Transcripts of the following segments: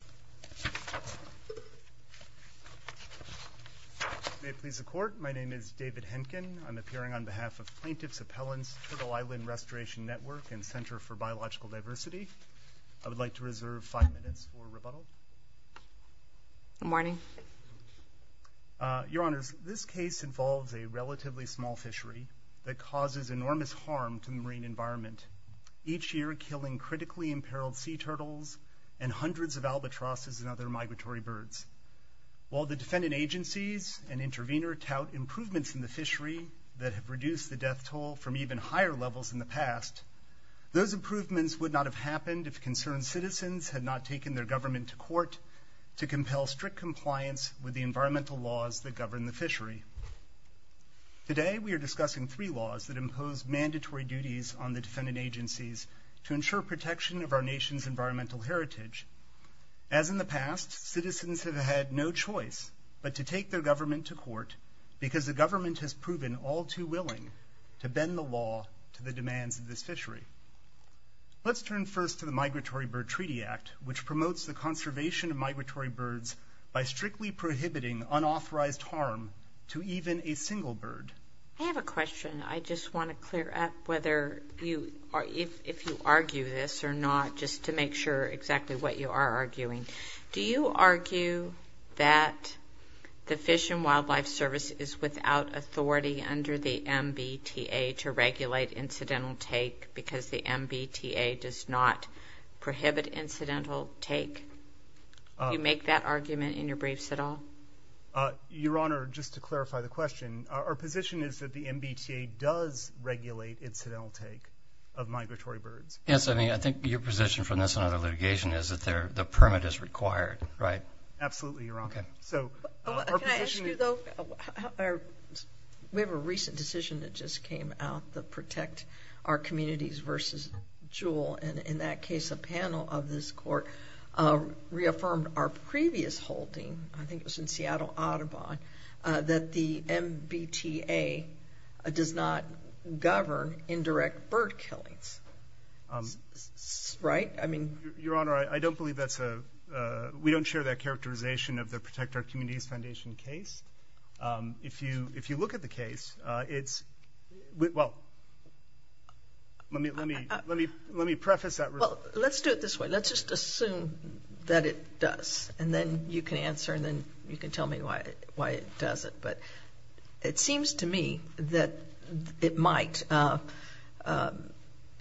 Good morning. Your Honor, this case involves a relatively small fishery that causes enormous harm to the marine environment, each year killing critically imperiled sea turtles and hundreds of albatrosses and other migratory birds. While the defendant agencies and intervener tout improvements in the fishery that have reduced the death toll from even higher levels in the past, those improvements would not have happened if concerned citizens had not taken their government to court to compel strict compliance with the environmental laws that govern the fishery. Today we are discussing three laws that impose mandatory duties on to ensure protection of our nation's environmental heritage. As in the past, citizens have had no choice but to take their government to court because the government has proven all too willing to bend the law to the demands of the fishery. Let's turn first to the Migratory Bird Treaty Act, which promotes the conservation of migratory birds by strictly prohibiting unauthorized harm to even a single bird. I have a question. I just want to clear up whether you, if you argue this or not, just to make sure exactly what you are arguing. Do you argue that the Fish and Wildlife Service is without authority under the MBTA to regulate incidental take because the MBTA does not prohibit incidental take? Do you make that argument in your briefs at all? Your Honor, just to clarify the question, our position is that the MBTA does regulate incidental take of migratory birds. Yes, I mean, I think your position from this point of litigation is that the permit is required, right? Absolutely, Your Honor. Okay. So our position is... Can I ask you, though? We have a recent decision that just came out to protect our communities versus jewel. And in that case, a panel of this court reaffirmed our previous holding. I think it was in Seattle Audubon, that the MBTA does not govern indirect bird killings. Right? I mean... Your Honor, I don't believe that's a... We don't share that characterization of the Protect Our Communities Foundation case. If you look at the case, it's... Well, let me preface that... Let's do it this way. Let's just assume that it does, and then you can answer, and then you can tell me why it doesn't. But it seems to me that it might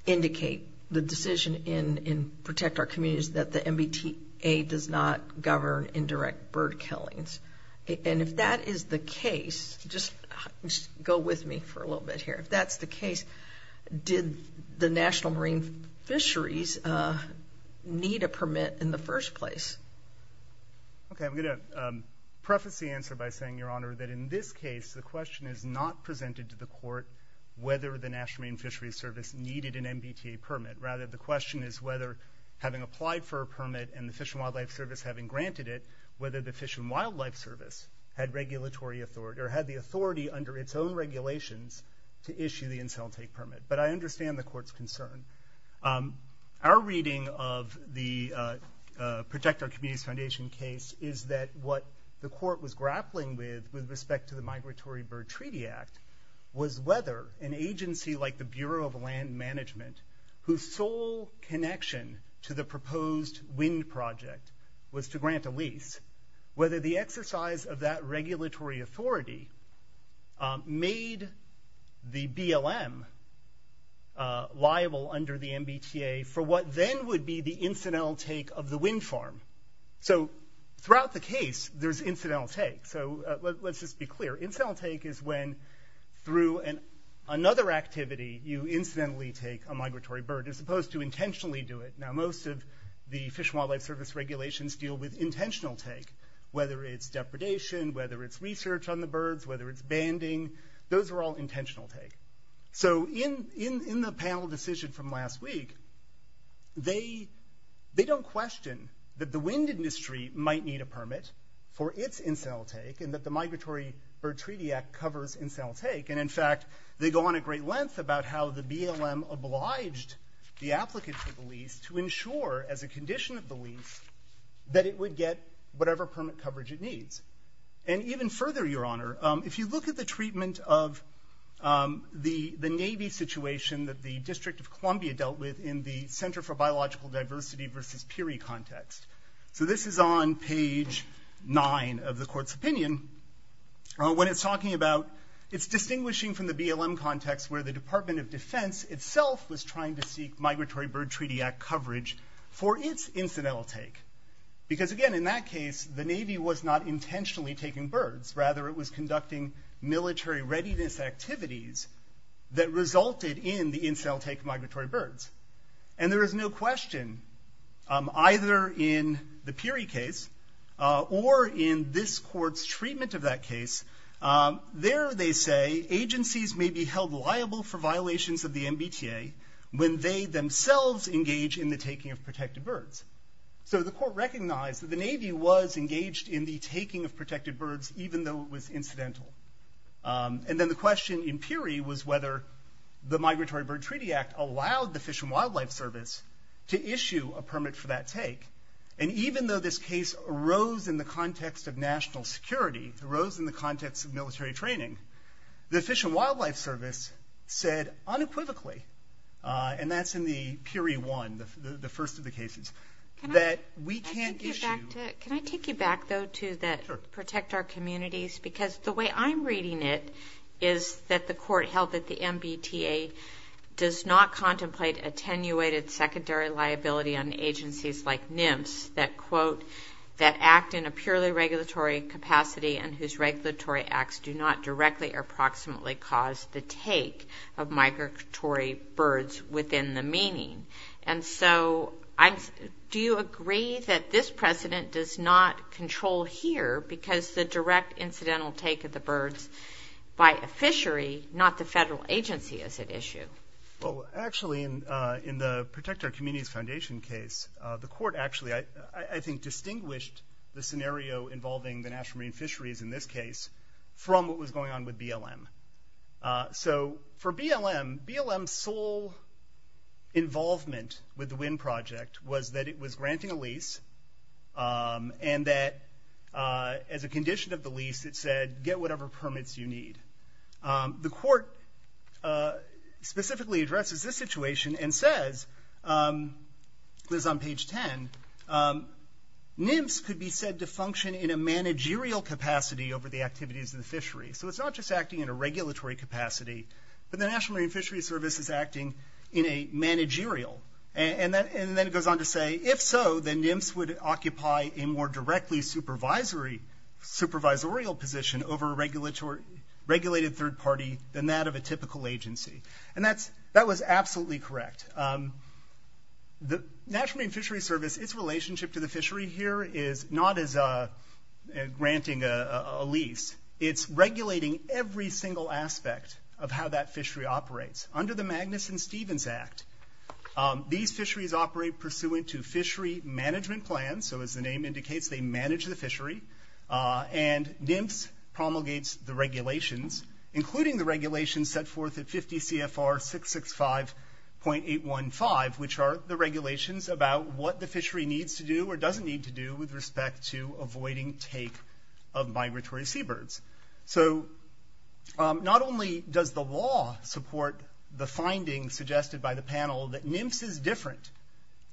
indicate the decision in Protect Our Communities that the MBTA does not govern indirect bird killings. And if that is the case, just go with me for a little bit here. If that's the case, did the National Marine Fisheries need a permit in the first place? Okay. I'm going to preface the answer by saying, Your Honor, that in this case, the question is not presented to the court whether the National Marine Fisheries Service needed an MBTA permit. Rather, the question is whether, having applied for a permit and the Fish and Wildlife Service having granted it, whether the Fish and Wildlife Service had regulatory authority or had the authority under its own regulations to issue the Incel Take permit. But I understand the court's concern. Our reading of the Protect Our Communities Foundation case is that what the court was grappling with with respect to the Migratory Bird Treaty Act was whether an agency like the Bureau of Land Management, whose sole connection to the proposed wind project was to grant a lease, whether the exercise of that regulatory authority made the BLM liable under the MBTA for what then would be the incidental take of the wind farm. So throughout the case, there's incidental take. So let's just be clear. Incidental take is when, through another activity, you incidentally take a migratory bird as opposed to intentionally do it. Now, most of the Fish and Wildlife Service regulations deal with intentional take, whether it's depredation, whether it's research on the birds, whether it's banding. Those are all intentional take. So in the panel decision from last week, they don't question that the wind industry might need a permit for its incidental take and that the Migratory Bird Treaty Act covers incidental take. And in fact, they go on at great lengths about how the BLM obliged the applicant to the lease to ensure, as a condition of the lease, that it would get whatever permit coverage it needs. And even further, Your Honor, if you look at the treatment of the Navy situation that the District of Columbia dealt with in the Center for Biological Diversity versus PERI context. So this is on page 9 of the Court's opinion. When it's talking about – it's distinguishing from the BLM context, where the Department of Defense itself was trying to seek Migratory Bird Treaty Act coverage for its incidental take. Because again, in that case, the Navy was not intentionally taking birds. Rather, it was conducting military readiness activities that resulted in the incidental take of migratory birds. And there is no question, either in the PERI case or in this Court's treatment of that case, there, they say, agencies may be held liable for violations of the MBTA when they themselves engage in the taking of protected birds. So the Court recognized that the Navy was engaged in the taking of protected birds, even though it was incidental. And then the question in PERI was whether the Migratory Bird Treaty Act allowed the Fish and Wildlife Service to issue a permit for that take. And even though this case arose in the context of national security, arose in the context of military training, the Fish and Wildlife Service said unequivocally – and that's in the PERI 1, the first of the cases – that we can't issue – Can I take you back, though, to that protect our communities? Because the way I'm reading it is that the Court held that the MBTA does not contemplate attenuated secondary liability on agencies like NIMS that, quote, that act in a purely regulatory capacity and whose regulatory acts do not directly or approximately cause the take of migratory birds within the meaning. And so do you agree that this precedent does not control here because the direct incidental take of the birds by a fishery, not the federal agency, is at issue? Well, actually, in the Protect Our Communities Foundation case, the Court actually, I think, distinguished the scenario involving the National Marine Fisheries in this case from what was going on with BLM. So for BLM, BLM's sole involvement with the WIND Project was that it was granting a lease and that as a condition of the lease, it said get whatever permits you need. The Court specifically addresses this situation and says – this is on page 10 – NIMS could be said to function in a managerial capacity over the activities of the fishery. So it's not just acting in a regulatory capacity, but the National Marine Fisheries Service is acting in a managerial. And then it goes on to say, if so, then NIMS would occupy a more directly supervisory – supervisorial position over a regulated third party than that of a typical agency. And that's – that was absolutely correct. The National Marine Fisheries Service, its relationship to the fishery here is not as a – granting a lease. It's regulating every single aspect of how that fishery operates. Under the Magnuson-Stevens Act, these fisheries operate pursuant to fishery management plans. So as the name indicates, they manage the fishery. And NIMS promulgates the regulations, including the regulations set forth at 50 CFR 665.815, which are the regulations about what the fishery needs to do or doesn't need to do with respect to avoiding take of the findings suggested by the panel that NIMS is different.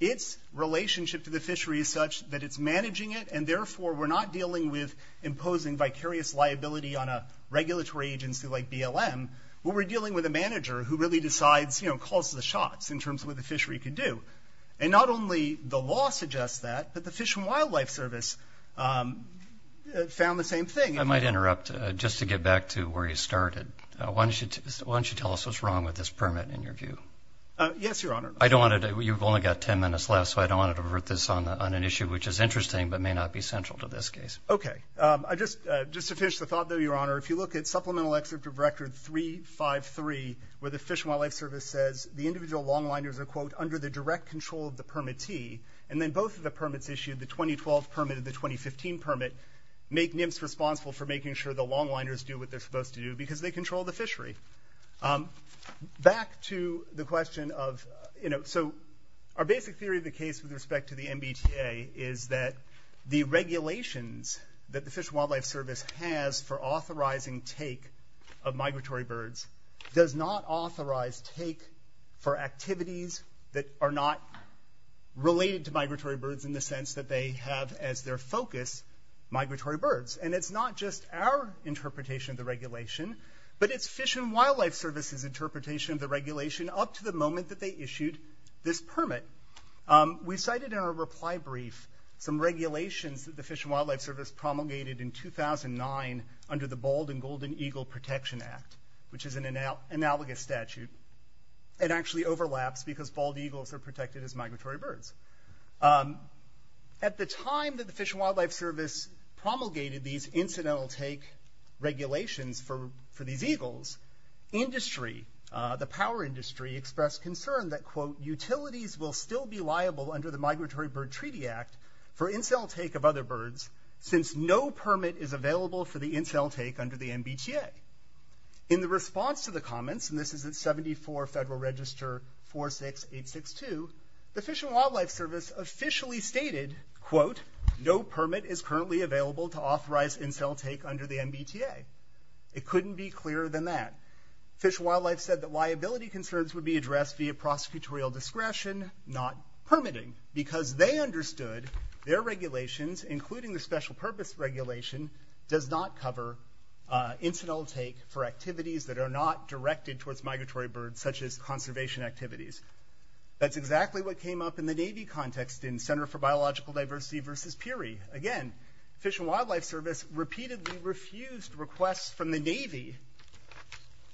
Its relationship to the fishery is such that it's managing it, and therefore we're not dealing with imposing vicarious liability on a regulatory agency like BLM. We're dealing with a manager who really decides, you know, calls the shots in terms of what the fishery can do. And not only the law suggests that, but the Fish and Wildlife Service found the same thing. I might interrupt, just to get back to where you started. Why don't you tell us what's going on with this permit, in your view? Yes, Your Honor. I don't want to, you've only got 10 minutes left, so I don't want to revert this on an issue which is interesting, but may not be central to this case. Okay. I just, just to finish the thought there, Your Honor, if you look at Supplemental Excerpt of Record 353, where the Fish and Wildlife Service says the individual longliners are quote, under the direct control of the permittee, and then both of the permits issued, the 2012 permit and the 2015 permit, make NIMS responsible for making sure the longliners do what they're Back to the question of, you know, so our basic theory of the case with respect to the MBTA is that the regulations that the Fish and Wildlife Service has for authorizing take of migratory birds does not authorize take for activities that are not related to migratory birds in the sense that they have as their focus, migratory birds. And it's not just our interpretation of the regulation, but it's Fish and Wildlife Service's interpretation of the regulation up to the moment that they issued this permit. We cited in our reply brief some regulations that the Fish and Wildlife Service promulgated in 2009 under the Bald and Golden Eagle Protection Act, which is an analogous statute. It actually overlaps because bald eagles are protected as migratory birds. At the time that the Fish and Wildlife Service promulgated these incidental take regulations for these eagles, industry, the power industry, expressed concern that, quote, utilities will still be liable under the Migratory Bird Treaty Act for incidental take of other birds since no permit is available for the incidental take under the MBTA. In the response to the comments, and this is at 74 Federal Register 46862, the Fish and Wildlife Service officially stated, quote, no permit is currently available to authorize incidental take under the MBTA. It couldn't be clearer than that. Fish and Wildlife said that liability concerns would be addressed via prosecutorial discretion, not permitting, because they understood their regulations, including the special purpose regulation, does not cover incidental take for activities that are not directed towards migratory birds, such as conservation activities. That's exactly what came up in the Navy context in Center for Biological Diversity versus PURI. Again, Fish and Wildlife Service repeatedly refused requests from the Navy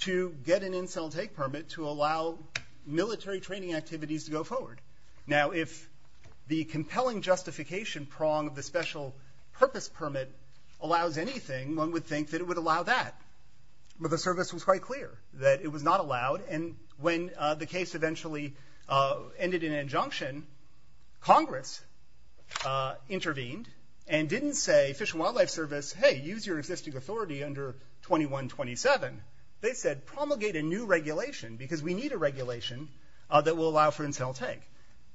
to get an incidental take permit to allow military training activities to go forward. Now, if the compelling justification prong of the special purpose permit allows anything, one would think that it would allow that. But the service was quite clear that it was not allowed. And when the case eventually ended in injunction, Congress intervened and didn't say, Fish and Wildlife Service, hey, use your existing authority under 2127. They said, promulgate a new regulation, because we need a regulation that will allow for incidental take.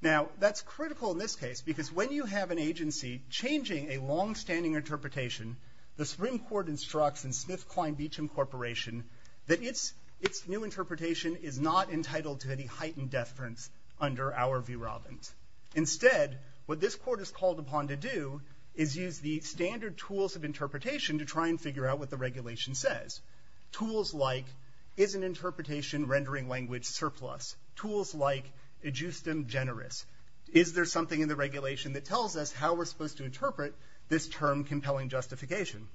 Now, that's critical in this case, because when you have an agency changing a longstanding interpretation, the Supreme Court instructs in Smith, Klein, Beecham Corporation that its new interpretation is not entitled to be heightened deference under our V. Robbins. Instead, what this court is called upon to do is use the standard tools of interpretation to try and figure out what the regulation says. Tools like, is an interpretation rendering language surplus? Tools like, adjust them generous? Is there something in the regulation that tells us how we're supposed to interpret this term compelling justification?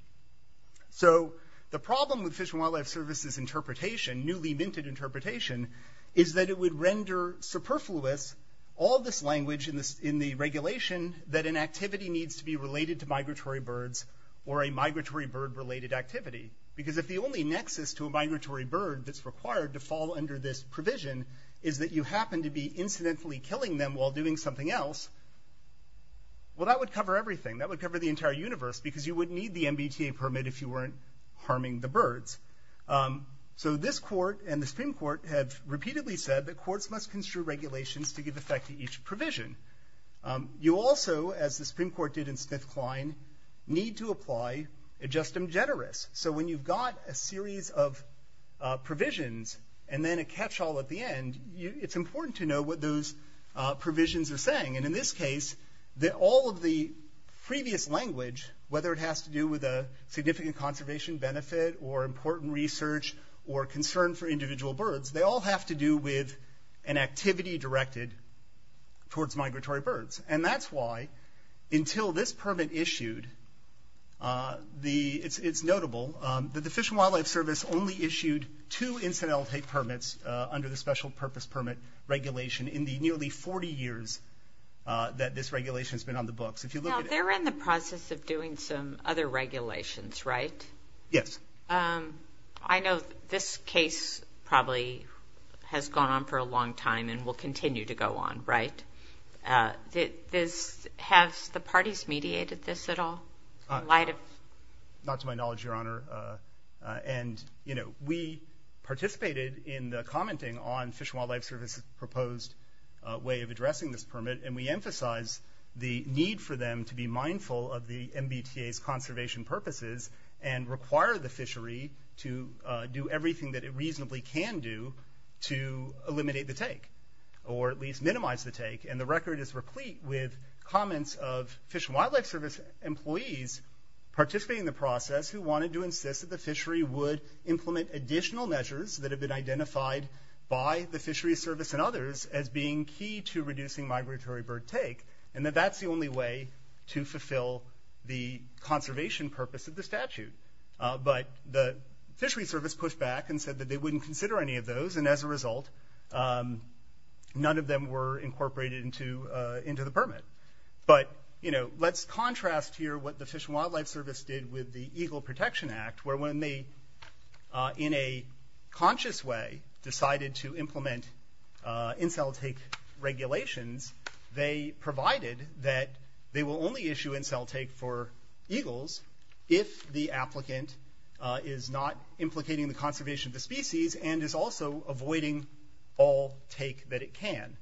So the problem with Fish and Wildlife Service's interpretation, a newly minted interpretation, is that it would render superfluous all this language in the regulation that an activity needs to be related to migratory birds or a migratory bird-related activity. Because if the only nexus to a migratory bird that's required to fall under this provision is that you happen to be incidentally killing them while doing something else, well, that would cover everything. That would cover the entire universe, because you wouldn't need the MBTA permit if you weren't harming the birds. So this court and the Supreme Court have repeatedly said that courts must construe regulations to give effect to each provision. You also, as the Supreme Court did in Smith, Klein, need to apply adjust them generous. So when you've got a series of provisions and then a catch-all at the end, it's important to know what those provisions are saying. And in this case, all of the previous language, whether it has to do with a significant conservation benefit or important research or concern for individual birds, they all have to do with an activity directed towards migratory birds. And that's why, until this permit issued, it's notable that the Fish and Wildlife Service only issued two incidental elimination permits under the Special Purpose Permit Regulation in the nearly 40 years that this regulation's been on the books. Now, they're in the process of doing some other regulations, right? Yes. I know this case probably has gone on for a long time and will continue to go on, right? Has the parties mediated this at all? Not to my knowledge, Your Honor. And, you know, we participated in the commenting on the Fish and Wildlife Service report. And I think it's important for them to be mindful of the MBTA's conservation purposes and require the fishery to do everything that it reasonably can do to eliminate the take, or at least minimize the take. And the record is replete with comments of Fish and Wildlife Service employees participating in the process who wanted to insist that the fishery would implement additional measures that have been identified by the Fishery Service and others as being key to reducing migratory bird take. And that that's the only way to fulfill the conservation purpose of the statute. But the Fishery Service pushed back and said that they wouldn't consider any of those. And as a result, none of them were incorporated into the permit. But, you know, let's contrast here what the Fish and Wildlife Service did with the Eagle Protection Act, where when they, in a conscious way, decided to implement in-cell take regulations, they provided that they will only issue in-cell take for eagles if the applicant is not implicating the conservation of the species and is also avoiding all take that it can.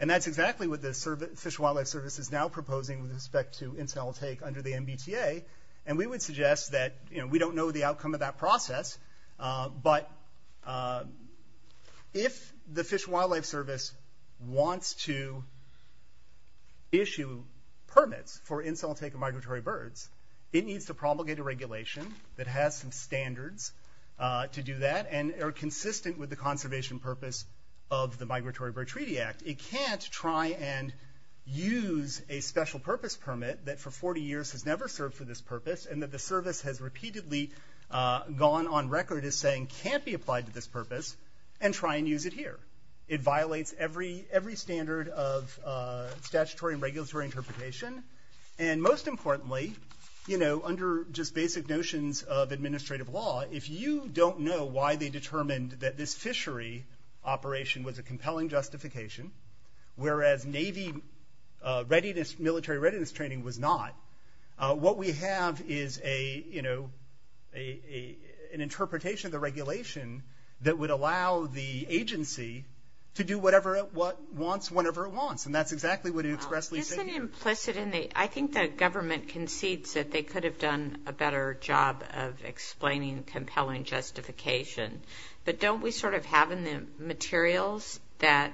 And that's exactly what the Fish and Wildlife Service is now proposing with respect to in-cell take under the MBTA. And we would suggest that, you know, we don't know the outcome of that process, but if the Fish and Wildlife Service wants to, you know, eliminate the take, and then issue permits for in-cell take of migratory birds, it needs to promulgate a regulation that has some standards to do that and are consistent with the conservation purpose of the Migratory Bird Treaty Act. It can't try and use a special purpose permit that for 40 years has never served for this purpose and that the service has repeatedly gone on record as saying can't be applied to this purpose and try and use it here. It violates every standard of statutory and regulatory interpretation. And most importantly, you know, under just basic notions of administrative law, if you don't know why they determined that this fishery operation was a compelling justification, whereas Navy readiness – military readiness training was not, what we have is a – you know, an interpretation of the regulation that would allow the agency to do whatever it wants whenever it wants. And that's exactly what it expressly states. Isn't it implicit in the – I think the government concedes that they could have done a better job of explaining compelling justification. But don't we sort of have in the materials that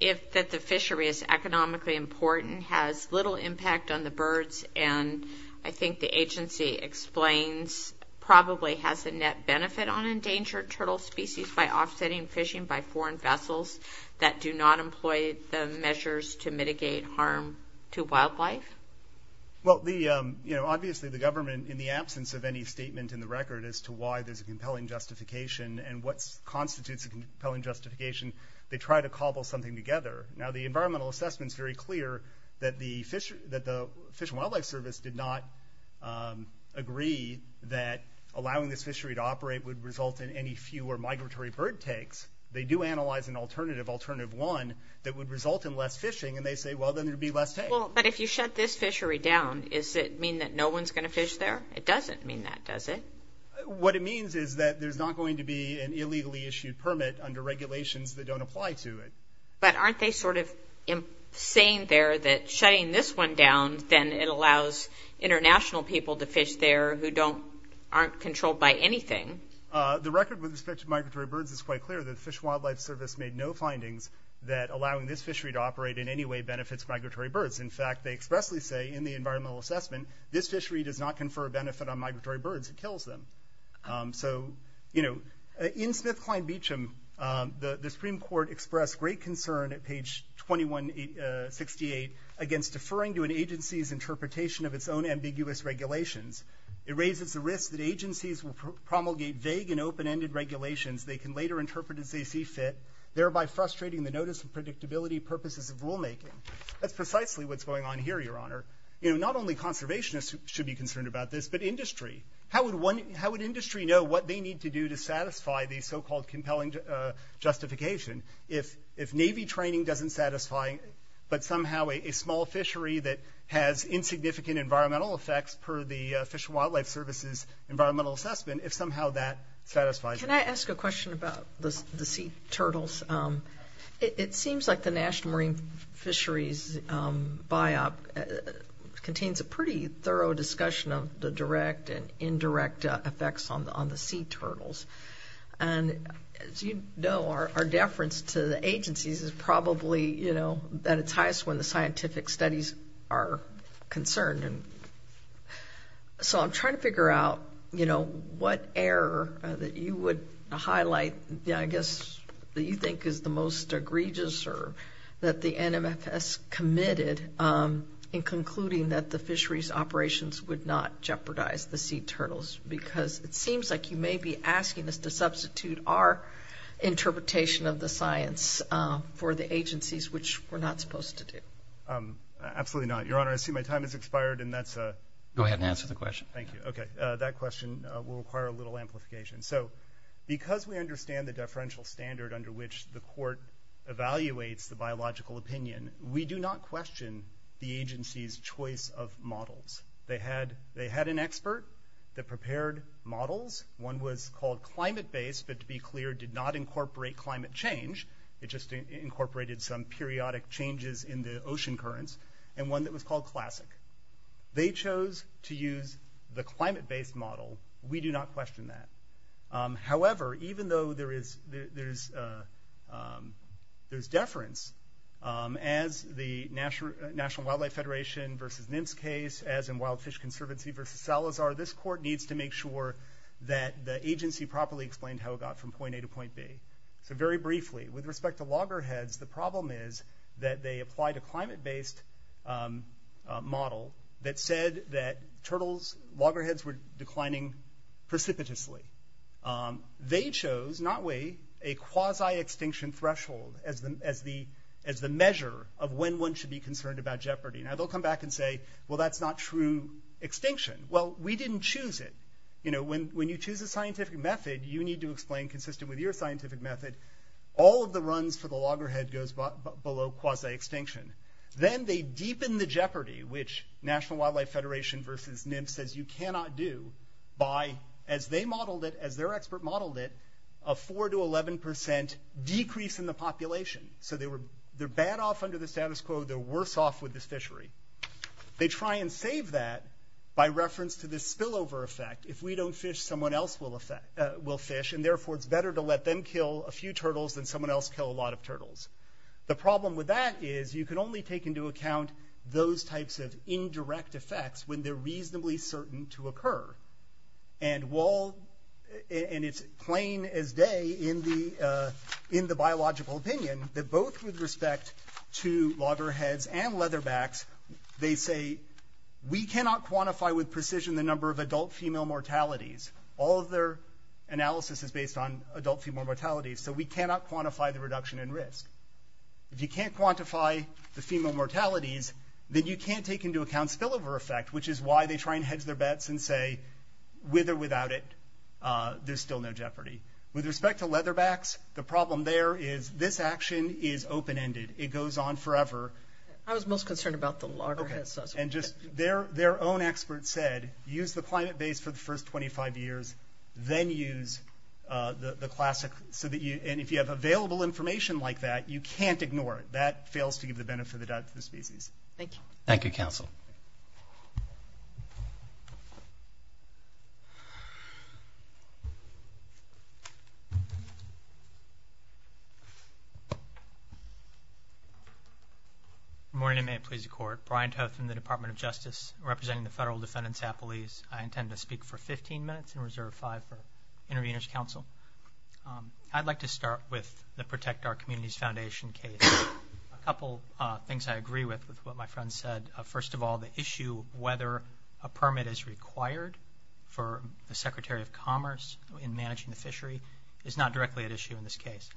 if – that the fishery is economically important, has little impact on the birds, and I think the agency explains probably has a net benefit on endangered turtle species by offsetting fishing by foreign vessels that do not employ the measures to mitigate harm to wildlife? Well, the – you know, obviously the government in the absence of any statement in the record as to why there's a compelling justification and what constitutes a compelling justification, they try to cobble something together. Now, the environmental assessment's very clear that the Fish and Wildlife Service did not agree that allowing this fishery to operate would result in any fewer migratory bird takes. They do analyze an alternative, alternative one, that would result in less fishing, and they say, well, then there'd be less takes. Well, but if you shut this fishery down, does it mean that no one's going to fish there? It doesn't mean that, does it? What it means is that there's not going to be an illegally issued permit under regulations that don't apply to it. But aren't they sort of saying there that shutting this one down, then it allows international people to fish there who don't – aren't controlled by anything? The record with respect to migratory birds is quite clear that the Fish and Wildlife Service made no findings that allowing this fishery to operate in any way benefits migratory birds. In fact, they expressly say in the environmental assessment, this fishery does not confer a benefit on migratory birds. It kills them. So, you know, in Smith-Klein-Beacham, the Supreme Court expressed great concern at page 2168 against deferring to an agency's interpretation of its own ambiguous regulations. It raises the risk that agencies will promulgate vague and open-ended regulations they can later interpret as they see fit, thereby frustrating the notice of predictability purposes of rulemaking. That's precisely what's going on here, Your Honor. You know, not only conservationists should be concerned about this, but industry. How would one – how would industry know what they need to do to satisfy the so-called compelling justification if Navy training doesn't satisfy, but somehow a small fishery that has insignificant environmental effects per the Fish and Wildlife Service's environmental assessment, if somehow that satisfies it? Can I ask a question about the sea turtles? It seems like the National Marine Fisheries Biop contains a pretty thorough discussion of the direct and indirect effects on the sea turtles. And as you know, our deference to the agencies is probably, you know, at its highest when the scientific studies are concerned. And so I'm trying to figure out, you know, what error that you would highlight, you know, I guess, that you think is the most omitted in concluding that the fisheries operations would not jeopardize the sea turtles, because it seems like you may be asking us to substitute our interpretation of the science for the agencies, which we're not supposed to do. Absolutely not, Your Honor. I see my time has expired, and that's a – Go ahead and answer the question. Thank you. Okay. That question will require a little amplification. So because we understand the deferential standard under which the court evaluates the biological opinion, we do not question the agency's choice of models. They had an expert that prepared models. One was called climate-based, but to be clear, did not incorporate climate change. It just incorporated some periodic changes in the ocean currents, and one that was called classic. They chose to use the climate-based model. We do not question that. However, even though there is – there's deference, as the National Wildlife Federation versus NIMS case, as in Wild Fish Conservancy versus Salazar, this court needs to make sure that the agency properly explained how it got from point A to point B. So very briefly, with respect to loggerheads, the problem is that they applied a climate-based model that said that turtles – loggerheads were declining precipitously. They chose, not Wade, a quasi-extinction threshold as the measure of when one should be concerned about jeopardy. Now, they'll come back and say, well, that's not true extinction. Well, we didn't choose it. You know, when you choose a scientific method, you need to explain consistent with your scientific method. All of the runs to the loggerhead goes below quasi-extinction. Then they deepen the jeopardy, which National Wildlife Federation versus NIMS says you cannot do, by, as they modeled it, as their expert modeled it, a 4 to 11 percent decrease in the population. So they were – they're bad off under the status quo. They're worse off with this fishery. They try and save that by reference to this spillover effect. If we don't fish, someone else will fish, and therefore, it's better to let them kill a few turtles than someone else kill a lot of turtles. The problem with that is you can only take into account those types of indirect effects when they're reasonably certain to occur. And while – and it's plain as day in the biological opinion that both with respect to loggerheads and leatherbacks, they say we cannot quantify with precision the number of adult female mortalities. All of their If you can't quantify the female mortalities, then you can't take into account spillover effect, which is why they try and hedge their bets and say, with or without it, there's still no jeopardy. With respect to leatherbacks, the problem there is this action is open-ended. It goes on forever. I was most concerned about the loggerheads. Okay. And just – their own experts said, use the climate base for the first 25 years, then use the classic – and if you have available information like that, you can't ignore it. That fails to give the benefit of the doubt to the species. Thank you. Thank you, counsel. Good morning. May it please the Court. Brian Tufts in the Department of Justice representing the Federal Defendant's Appellees. I intend to speak for 15 minutes and reserve five for intervenors' counsel. I'd like to start with the Protect Our Communities Foundation case. A couple things I agree with, with what my friend said. First of all, the issue of whether a permit is required for the Secretary of Commerce in managing the fishery is not directly at issue in this case.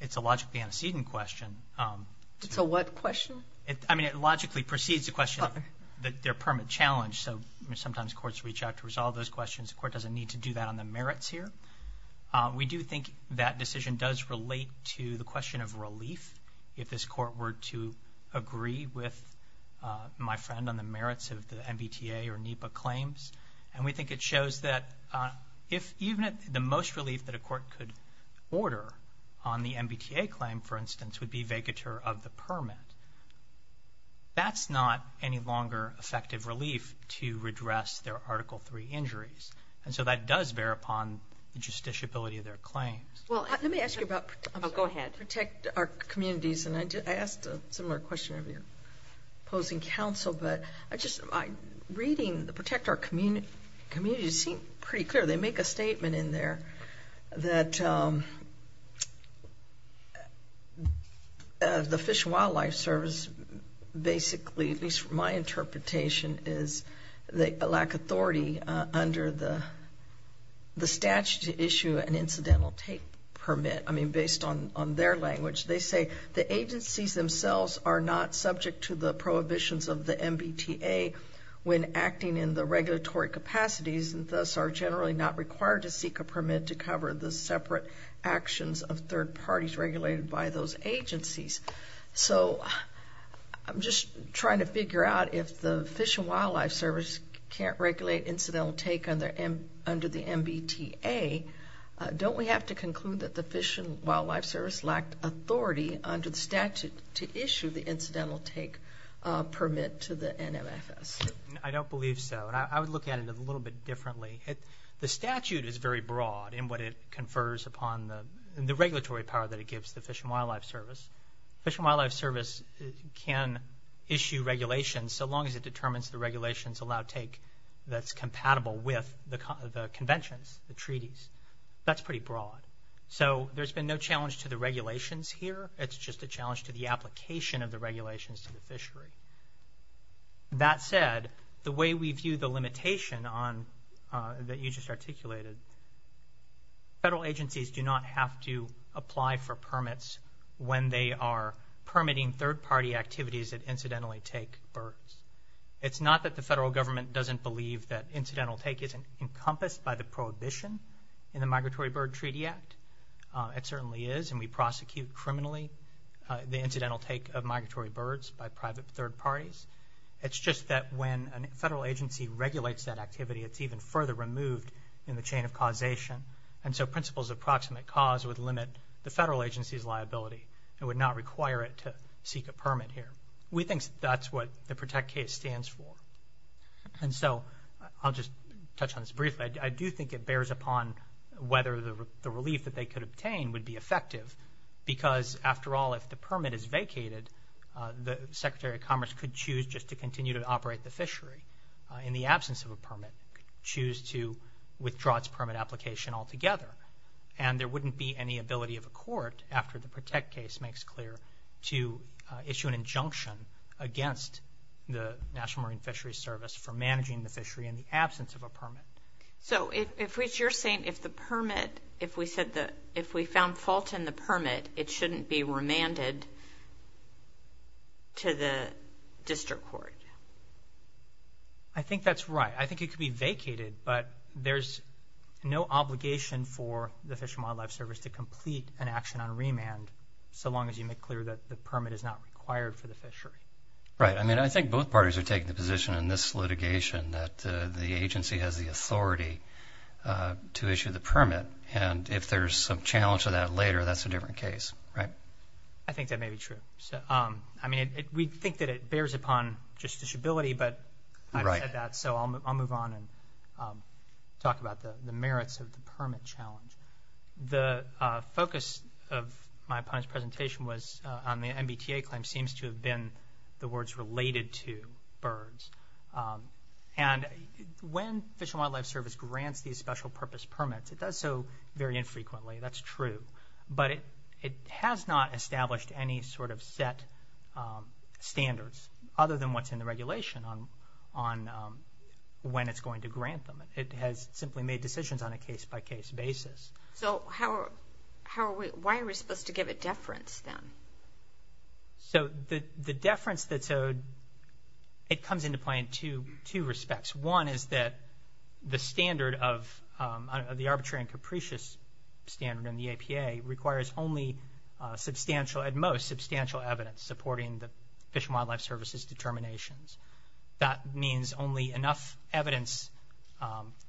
It's a logically antecedent question. It's a what question? I mean, it logically precedes the question of their permit challenge, so sometimes courts reach out to resolve those questions. The court doesn't need to do that on the merits here. We do think that decision does relate to the question of relief if this court were to agree with my friend on the merits of the MBTA or NEPA claims. And we think it shows that if even the most relief that a court could order on the MBTA claim, for instance, would be vacatur of the permit, that's not any longer effective relief to redress their Article III injuries. And so that does bear upon the justiciability of their claims. Well, let me ask you about Protect Our Communities, and I asked a similar question of your opposing counsel, but I just, reading the Protect Our Communities, it seemed pretty clear. They the Fish and Wildlife Service basically, at least from my interpretation, is the lack of authority under the statute to issue an incidental take permit. I mean, based on their language, they say the agencies themselves are not subject to the prohibitions of the MBTA when acting in the regulatory capacities, thus are generally not required to seek a So I'm just trying to figure out if the Fish and Wildlife Service can't regulate incidental take under the MBTA, don't we have to conclude that the Fish and Wildlife Service lacked authority under the statute to issue the incidental take permit to the NMFS? I don't believe so, and I would look at it a little bit differently. The statute is very broad. The Fish and Wildlife Service can issue regulations so long as it determines the regulations allow take that's compatible with the conventions, the treaties. That's pretty broad. So there's been no challenge to the regulations here, it's just a challenge to the application of the regulations to the fishery. That said, the way we view the limitation that you just articulated, federal agencies do not have to apply for permits when they are permitting third-party activities that incidentally take birds. It's not that the federal government doesn't believe that incidental take isn't encompassed by the prohibition in the Migratory Bird Treaty Act. It certainly is, and we prosecute criminally the incidental take of migratory birds by private third parties. It's just that when a federal agency regulates that activity, it's even further removed in the chain of causation, and so principles of proximate cause would limit the federal agency's liability and would not require it to seek a permit here. We think that's what the PROTECT case stands for, and so I'll just touch on this briefly. I do think it bears upon whether the relief that they could obtain would be effective because, after all, if the permit is vacated, the Secretary of Commerce could choose just to continue to operate the fishery in the absence of a permit, choose to withdraw its permit application altogether, and there wouldn't be any ability of a court, after the PROTECT case makes clear, to issue an injunction against the National Marine Fisheries Service for managing the fishery in the absence of a permit. So you're saying if we found fault in the permit, it shouldn't be remanded to the district court? I think that's right. I think it could be vacated, but there's no obligation for the Fish and Wildlife Service to complete an action on remand, so long as you make clear that the permit is not required for the fishery. Right. I mean, I think both parties are taking the position in this litigation that the agency has the authority to issue the permit, and if there's some challenge to that later, that's a different case. Right. I think that may be true. I mean, we think that it bears upon justiciability, but I've said that, so I'll move on and talk about the merits of the permit challenge. The focus of my presentation was on the MBTA claim seems to have been the words related to birds, and when Fish and Wildlife Service grants these special purpose permits, it does so very infrequently, that's true, but it has not established any sort of set standards other than what's in the regulation on when it's going to grant them. It has simply made decisions on a case-by-case basis. So why are we supposed to give a deference then? So the deference that's owed, it comes into play in two respects. One is that the standard of the arbitrary and capricious standard in the APA requires only substantial, at most, substantial evidence supporting the Fish and Wildlife Service's determinations. That means only enough evidence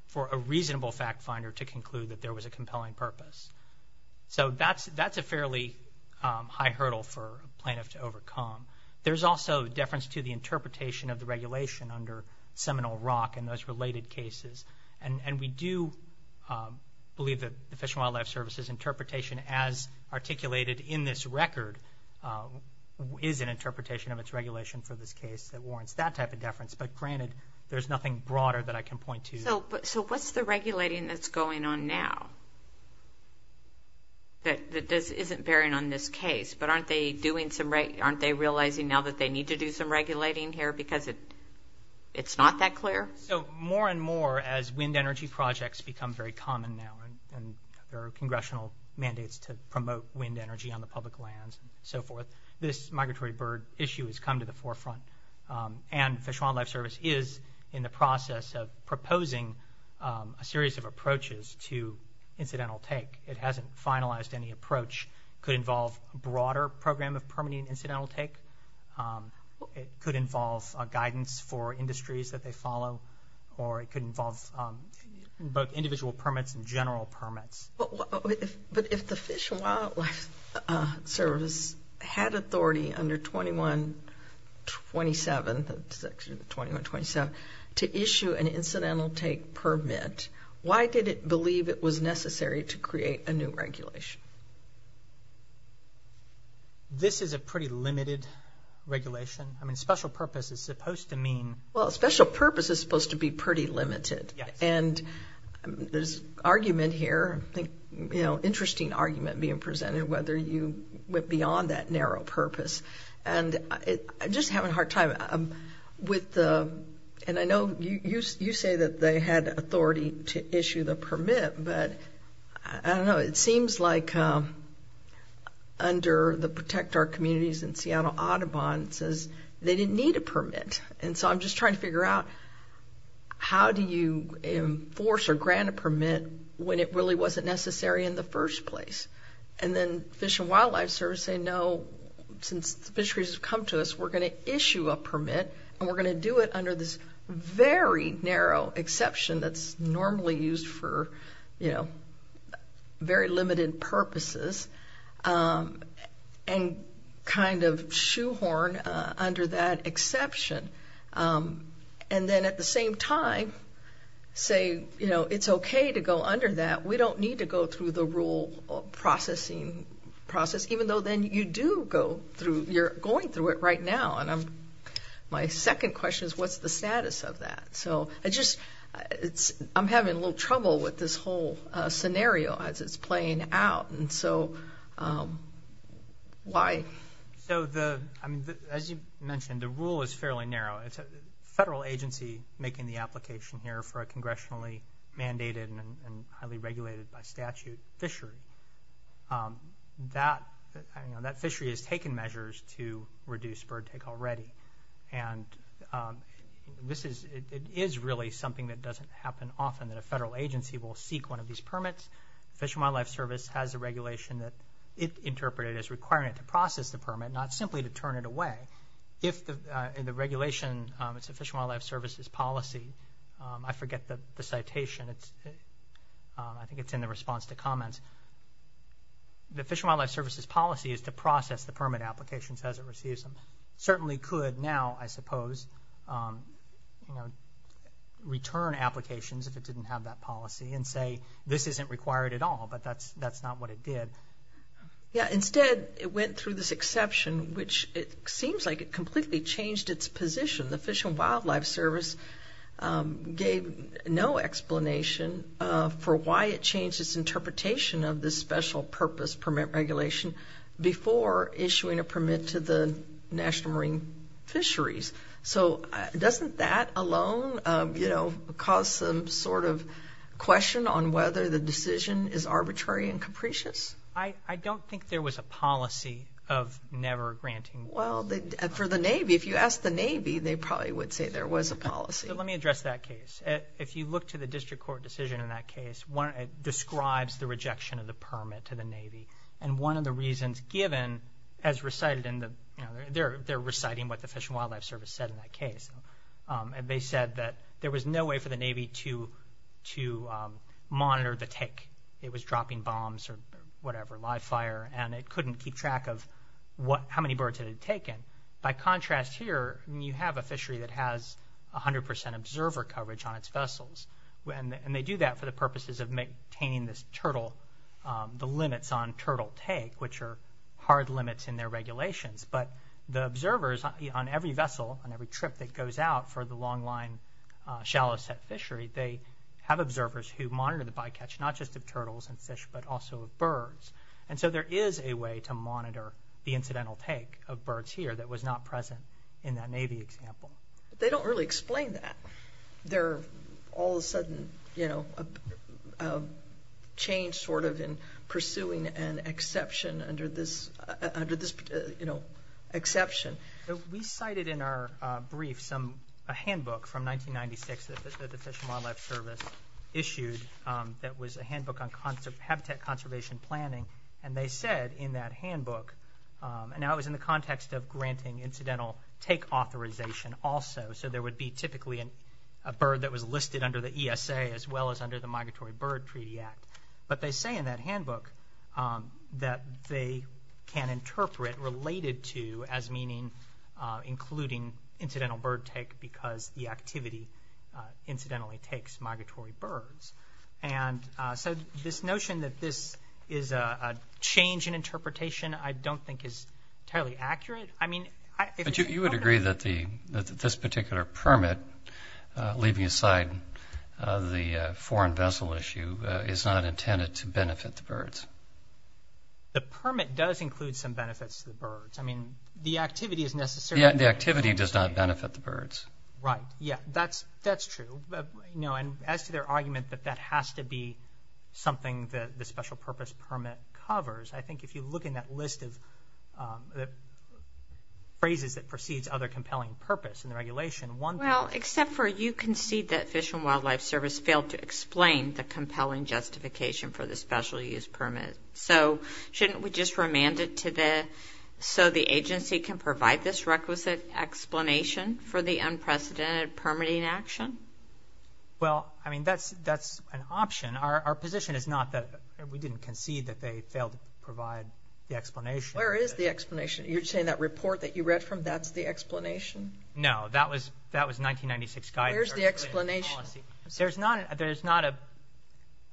for a reasonable fact finder to conclude that there was a compelling purpose. So that's a fairly high hurdle for plaintiffs to overcome. There's also deference to the interpretation of the regulation under Seminole Rock and those related cases, and we do believe that the Fish and Wildlife Service's interpretation as articulated in this record is an interpretation of its regulation for this case that warrants that type of deference, but granted, there's nothing broader that I can point to. So what's the regulating that's going on now that isn't bearing on this case? But aren't they realizing now that they need to do some regulating here because it's not that clear? So more and more, as wind energy projects become very common now and there are congressional mandates to promote wind energy on the public lands and so forth, this migratory bird issue has come to the forefront. And the Fish and Wildlife Service is in the process of proposing a series of approaches to incidental take. It hasn't finalized any approach. It could involve a broader program of permitting incidental take. It could involve guidance for industries that they follow, or it could involve both individual permits and general permits. But if the Fish and Wildlife Service had authority under section 2127 to issue an incidental take permit, why did it believe it was necessary to create a new regulation? This is a pretty limited regulation. I mean, special purpose is supposed to mean... Well, special purpose is supposed to be pretty limited. And this argument here, interesting argument being presented, whether you went beyond that narrow purpose. And I'm just having a hard time with the... And I know you say that they had authority to issue the permit, but I don't know. It seems like under the Protect Our Communities in Seattle Audubon, it says they didn't need a permit. And so I'm just trying to figure out how do you enforce or grant a permit when it really wasn't necessary in the first place? And then Fish and Wildlife Service say, no, since fisheries have come to us, we're going to issue a permit, and we're going to do it under this very narrow exception that's normally used for, you know, very limited purposes, and kind of shoehorn under that exception. And then at the same time, say, you know, it's okay to go under that. We don't need to go through the rule processing process, even though then you do go through... You're going through it right now. And my second question is, what's the status of that? So I just... I'm having a little trouble with this whole scenario as it's playing out. And so why? So the... I mean, as you mentioned, the rule is fairly narrow. It's a federal agency making the application here for a congressionally mandated and highly regulated by statute fishery. That fishery has taken measures to reduce bird take already. And this is... It is really something that doesn't happen often that a federal agency will seek one of these permits. The Fish and Wildlife Service has a regulation that it interpreted as requiring it to process the permit, not simply to turn it away. If the regulation... It's the Fish and Wildlife Service's policy. I forget the citation. I think it's in the response to comments. The Fish and Wildlife Service's policy is to process the permit applications as it receives them. It certainly could now, I suppose, return applications if it didn't have that policy and say, this isn't required at all. But that's not what it did. Yeah. Instead, it went through this exception, which it seems like it completely changed its position. The Fish and Wildlife Service gave no explanation for why it changed its interpretation of this So, doesn't that alone cause some sort of question on whether the decision is arbitrary and capricious? I don't think there was a policy of never granting... Well, for the Navy, if you asked the Navy, they probably would say there was a policy. Let me address that case. If you look to the district court decision in that case, it describes the rejection of the permit to the Navy. One of the reasons given, as recited in the... They're reciting what the Fish and Wildlife Service said in that case. They said that there was no way for the Navy to monitor the take. It was dropping bombs or whatever, live fire, and it couldn't keep track of how many birds it had taken. By contrast here, you have a fishery that has 100% observer coverage on its vessels. They do that for the purposes of maintaining the limits on turtle take, which are hard limits in their regulations. The observers on every vessel and every trip that goes out for the long line shallow set fishery, they have observers who monitor the bycatch, not just of turtles and fish, but also of birds. There is a way to monitor the incidental take of birds here that was not present in that Navy example. They don't really explain that. All of a sudden, a change in pursuing an exception under this exception. We cited in our brief a handbook from 1996 that the Fish and Wildlife Service issued that was a handbook on habitat conservation planning. They said in that handbook, and that was in the context of granting incidental take authorization also, so there would be typically a bird that was listed under the ESA as well as under the Migratory Bird Treaty Act. They say in that handbook that they can interpret related to as meaning including incidental bird take because the activity incidentally takes migratory birds. This notion that this is a change in interpretation, I don't think is entirely accurate. You would agree that this particular permit, leaving aside the foreign vessel issue, is not intended to benefit the birds? The permit does include some benefits to the birds. The activity does not benefit the birds. That's true. As to their argument that that has to be something that the special purpose permit covers, I perceived other compelling purpose in the regulation. Except for you concede that Fish and Wildlife Service failed to explain the compelling justification for the special use permit. Shouldn't we just remand it so the agency can provide this requisite explanation for the unprecedented permitting action? That's an option. Our position is not that we didn't concede that they failed to provide the explanation. Where is the explanation? You're saying that report that you read from, that's the explanation? No, that was 1996 guidance. Where's the explanation? There's not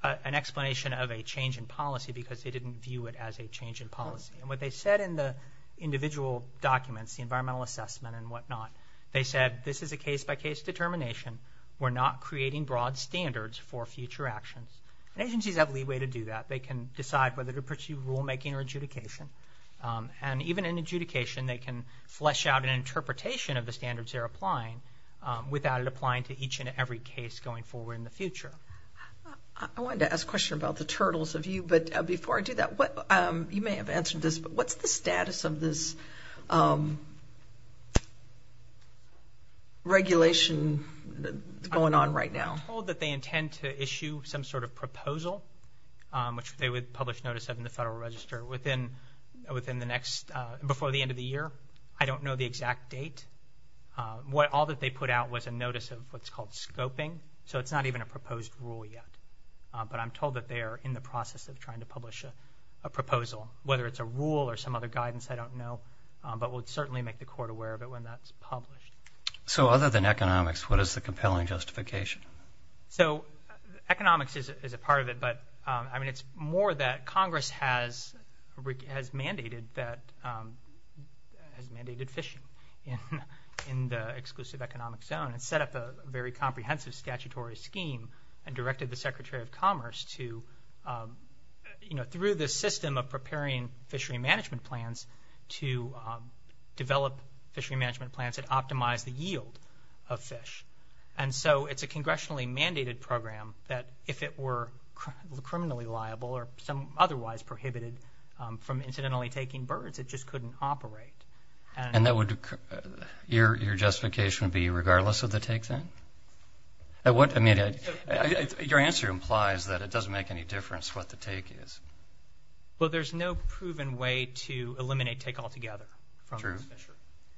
an explanation of a change in policy because they didn't view it as a change in policy. What they said in the individual documents, the environmental assessment and whatnot, they said this is a case by case determination. We're not creating broad standards for future action. Agencies have leeway to do that. They can decide whether to pursue rulemaking or adjudication. Even in adjudication, they can flesh out an interpretation of the standards they're applying without it applying to each and every case going forward in the future. I wanted to ask a question about the turtles of you, but before I do that, you may have answered this, but what's the status of this regulation going on right now? We're told that they intend to issue some sort of proposal, which they would publish notice of in the Federal Register before the end of the year. I don't know the exact date. All that they put out was a notice of what's called scoping, so it's not even a proposed rule yet, but I'm told that they are in the process of trying to publish a proposal. Whether it's a rule or some other guidance, I don't know, but we'll certainly make the court aware of it when that's published. Other than economics, what is the compelling justification? Economics is a part of it, but it's more that Congress has mandated fishing in the exclusive economic zone and set up a very comprehensive statutory scheme and directed the Secretary of Commerce to, through this system of preparing fishery management plans to develop fishery management plans that optimize the yield of fish. And so it's a congressionally mandated program that if it were criminally liable or otherwise prohibited from incidentally taking birth, it just couldn't operate. And your justification would be regardless of the take, then? Your answer implies that it doesn't make any difference what the take is. Well, there's no proven way to eliminate take altogether.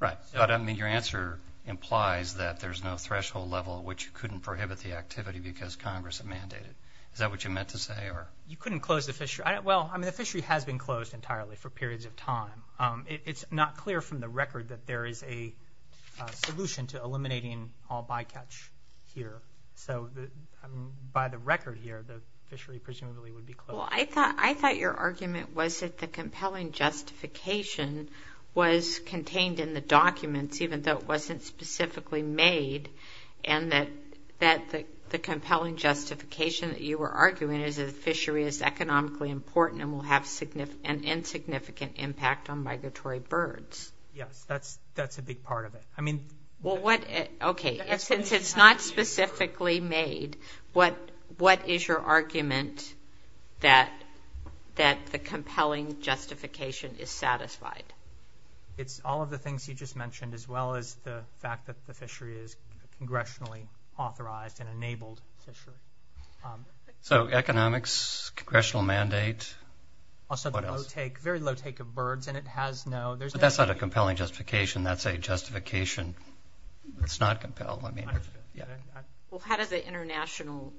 Right. I mean, your answer implies that there's no threshold level which couldn't prohibit the activity because Congress had mandated. Is that what you meant to say? You couldn't close the fishery. Well, I mean, the fishery has been closed entirely for periods of time. It's not clear from the record that there is a solution to eliminating all bycatch here. So by the record here, the fishery presumably would be closed. Well, I thought your argument was that the compelling justification was contained in the documents, even though it wasn't specifically made, and that the compelling justification that you were arguing is that a fishery is economically important and will have an insignificant impact on migratory birds. Yeah, that's a big part of it. Okay. Since it's not specifically made, what is your argument that the compelling justification is satisfied? It's all of the things you just mentioned as well as the fact that the fishery is congressionally authorized and enabled. So economics, congressional mandate, what else? Also the very low take of birds, and it has no – That's not a compelling justification. That's a justification that's not compelled. Well, how does the international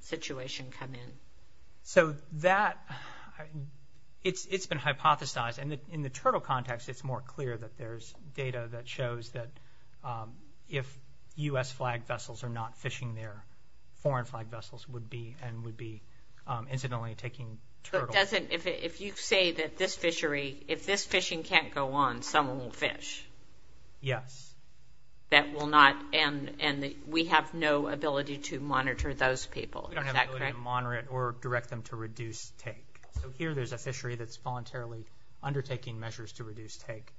situation come in? So that – it's been hypothesized, and in the turtle context, it's more clear that there's data that shows that if U.S. flag vessels are not fishing there, foreign flag vessels would be, and would be incidentally taking turtles. If you say that this fishery – if this fishing can't go on, someone will fish. Yes. That will not – and we have no ability to monitor those people. You don't have the ability to monitor it or direct them to reduce take. So here there's a fishery that's voluntarily undertaking measures to reduce take,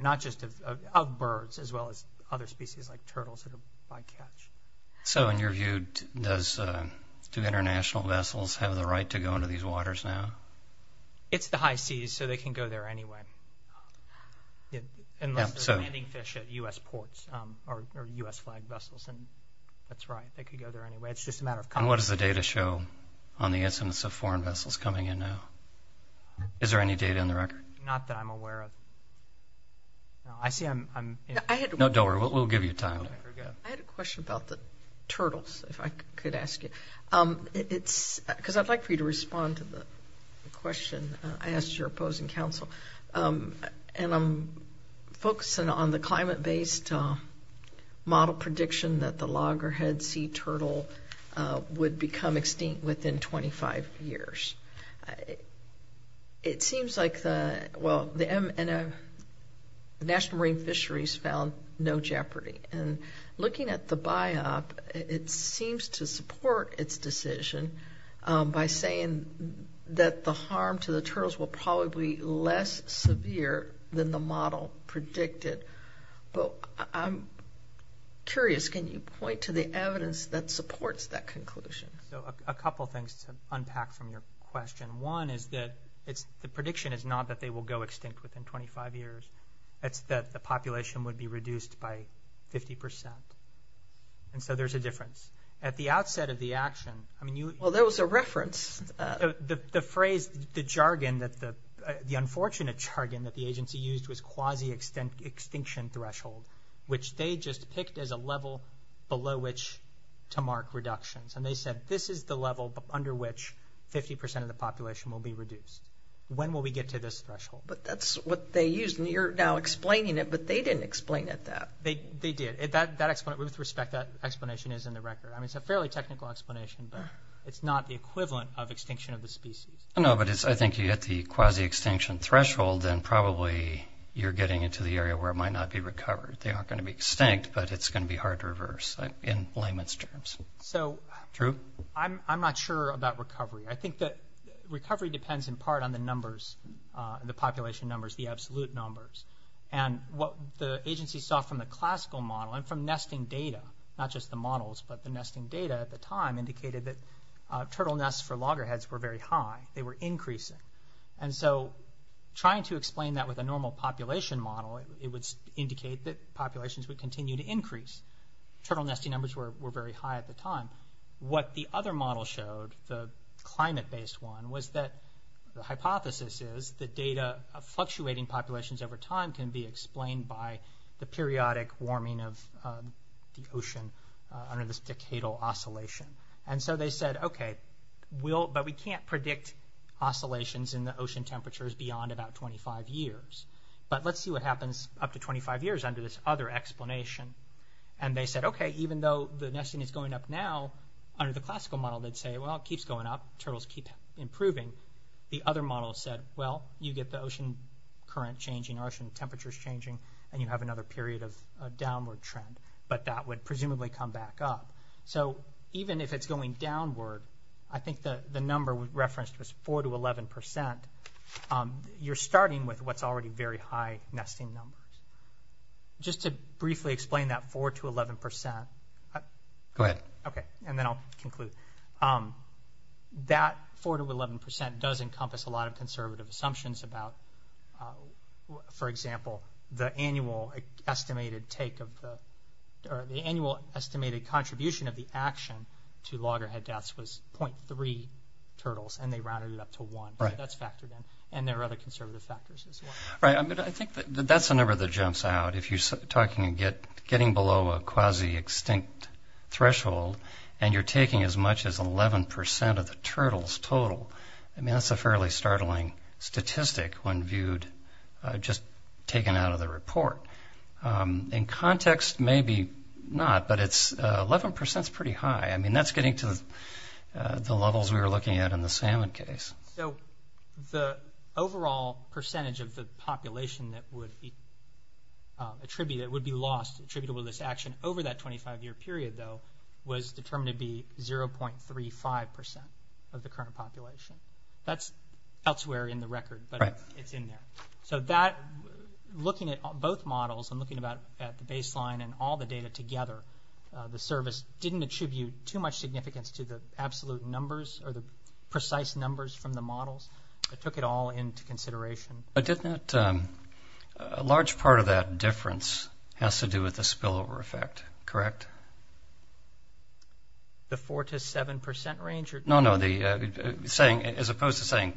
not just of birds as well as other species like turtles that are by catch. So in your view, do international vessels have the right to go into these waters now? It's the high seas, so they can go there anyway. Unless there's many fish at U.S. ports or U.S. flag vessels. That's right. They could go there anyway. It's just a matter of – And what does the data show on the essence of foreign vessels coming in now? Is there any data in the record? Not that I'm aware of. I see I'm – No, don't worry. We'll give you time. I had a question about the turtles, if I could ask it. Because I'd like for you to respond to the question I asked your opposing counsel. And I'm focusing on the climate-based model prediction that the loggerhead sea turtle would become extinct within 25 years. It seems like the – well, the National Marine Fisheries found no jeopardy. And looking at the biop, it seems to support its decision by saying that the harm to the turtles will probably be less severe than the model predicted. But I'm curious, can you point to the evidence that supports that conclusion? A couple things to unpack from your question. One is that the prediction is not that they will go extinct within 25 years. It's that the population would be reduced by 50 percent. And so there's a difference. At the outset of the action – Well, there was a reference. The phrase – the jargon that – the unfortunate jargon that the agency used was quasi-extinction threshold, which they just picked as a level below which to mark reductions. And they said this is the level under which 50 percent of the population will be reduced. When will we get to this threshold? But that's what they used. And you're now explaining it, but they didn't explain it that. They did. With respect, that explanation is in the record. I mean, it's a fairly technical explanation, but it's not the equivalent of extinction of the species. No, but I think if you hit the quasi-extinction threshold, then probably you're getting into the area where it might not be recovered. They aren't going to be extinct, but it's going to be hard to reverse in layman's terms. So I'm not sure about recovery. I think that recovery depends in part on the numbers, the population numbers, the absolute numbers. And what the agency saw from the classical model and from nesting data, not just the models, but the nesting data at the time indicated that turtle nests for loggerheads were very high. They were increasing. And so trying to explain that with a normal population model, it would indicate that populations would continue to increase. Turtle nesting numbers were very high at the time. What the other model showed, the climate-based one, was that the hypothesis is that data of fluctuating populations over time can be explained by the periodic warming of the ocean under this decadal oscillation. And so they said, okay, but we can't predict oscillations in the ocean temperatures beyond about 25 years. But let's see what happens up to 25 years under this other explanation. And they said, okay, even though the nesting is going up now under the classical model, they'd say, well, it keeps going up, turtles keep improving. The other model said, well, you get the ocean current changing, ocean temperatures changing, and you have another period of downward trend. But that would presumably come back up. So even if it's going downward, I think the number referenced was 4 to 11 percent. You're starting with what's already very high nesting numbers. Just to briefly explain that 4 to 11 percent. Go ahead. Okay, and then I'll conclude. That 4 to 11 percent does encompass a lot of conservative assumptions about, for example, the annual estimated take of the – or the annual estimated contribution of the action to loggerhead deaths was 0.3 turtles, and they rounded it up to 1. Right. That's factored in. And there are other conservative factors as well. Right. I mean, I think that's the number that jumps out. If you're talking – getting below a quasi-extinct threshold, and you're taking as much as 11 percent of the turtles total, I mean, that's a fairly startling statistic when viewed – just taken out of the report. In context, maybe not, but it's – 11 percent's pretty high. I mean, that's getting to the levels we were looking at in the salmon case. So the overall percentage of the population that would be attributed – that would be lost attributable to this action over that 25-year period, though, was determined to be 0.35 percent of the current population. That's elsewhere in the record, but it's in there. Right. So that – looking at both models and looking at the baseline and all the data together, the service didn't attribute too much significance to the absolute numbers or the precise numbers from the models. It took it all into consideration. But didn't that – a large part of that difference has to do with the spillover effect, correct? The 4 to 7 percent range? No, no, the – saying – as opposed to saying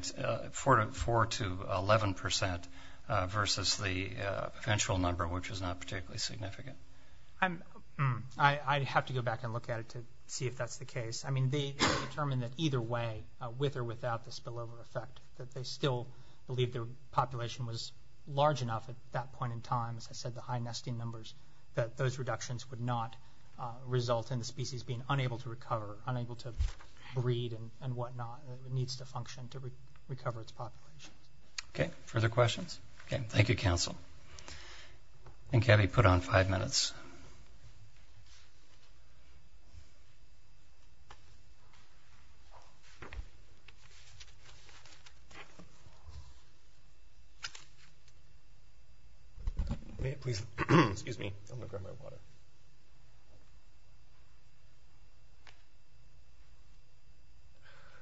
4 to 11 percent versus the eventual number, which is not particularly significant. I have to go back and look at it to see if that's the case. I mean, they determined that either way, with or without the spillover effect, that they still believed their population was large enough at that point in time, as I said, the high nesting numbers, that those reductions would not result in the species being unable to recover, unable to breed and whatnot, and it needs to function to recover its population. Okay. Further questions? Okay. Thank you, counsel. And can we put on five minutes? May it please – excuse me.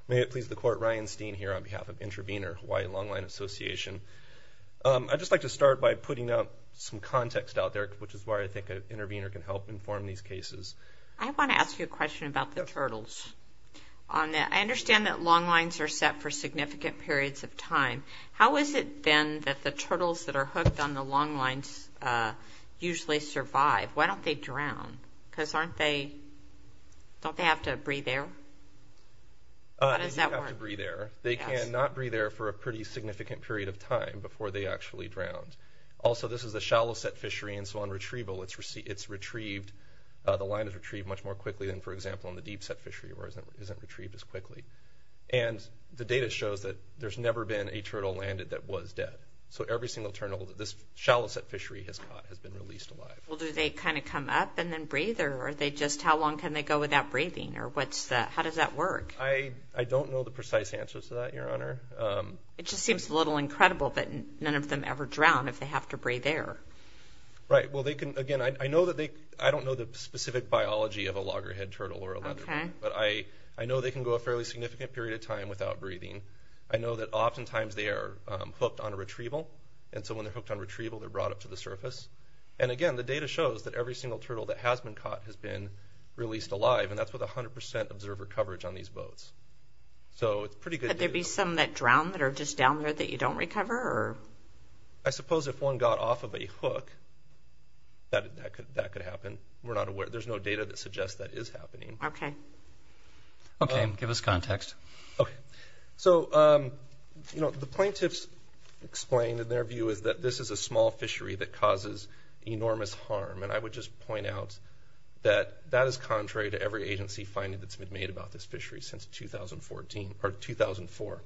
May it please the Court, Ryan Steen here on behalf of Intravener Hawaii Longline Association. I'd just like to start by putting out some context out there, which is why I think Intravener can help inform these cases. I want to ask you a question about the turtles. I understand that longlines are set for significant periods of time. How is it, then, that the turtles that are hooked on the longlines usually survive? Why don't they drown? Because aren't they – don't they have to breathe air? How does that work? They can breathe air. They cannot breathe air for a pretty significant period of time before they actually drown. Also, this is a shallow-set fishery, and so on retrieval, it's retrieved – the line is retrieved much more quickly than, for example, in the deep-set fishery, where it isn't retrieved as quickly. And the data shows that there's never been a turtle landed that was dead. So every single turtle that this shallow-set fishery has caught has been released alive. Well, do they kind of come up and then breathe, or are they just – how long can they go without breathing, or what's the – how does that work? I don't know the precise answers to that, Your Honor. It just seems a little incredible that none of them ever drown if they have to breathe air. Right. Well, they can – again, I know that they – I don't know the specific biology of a loggerhead turtle or a leatherback. Okay. But I know they can go a fairly significant period of time without breathing. I know that oftentimes they are hooked on retrieval, and so when they're hooked on retrieval, they're brought up to the surface. And again, the data shows that every single turtle that has been caught has been released alive, and that's with 100 percent observer coverage on these boats. So it's pretty good – Could there be some that drown that are just down there that you don't recover, or – I suppose if one got off of a hook, that could happen. We're not aware – there's no data that suggests that is happening. Okay. Okay. Give us context. Okay. So, you know, the plaintiffs explained in their view that this is a small fishery that causes enormous harm. And I would just point out that that is contrary to every agency finding that's been made about this fishery since 2014 – or 2004.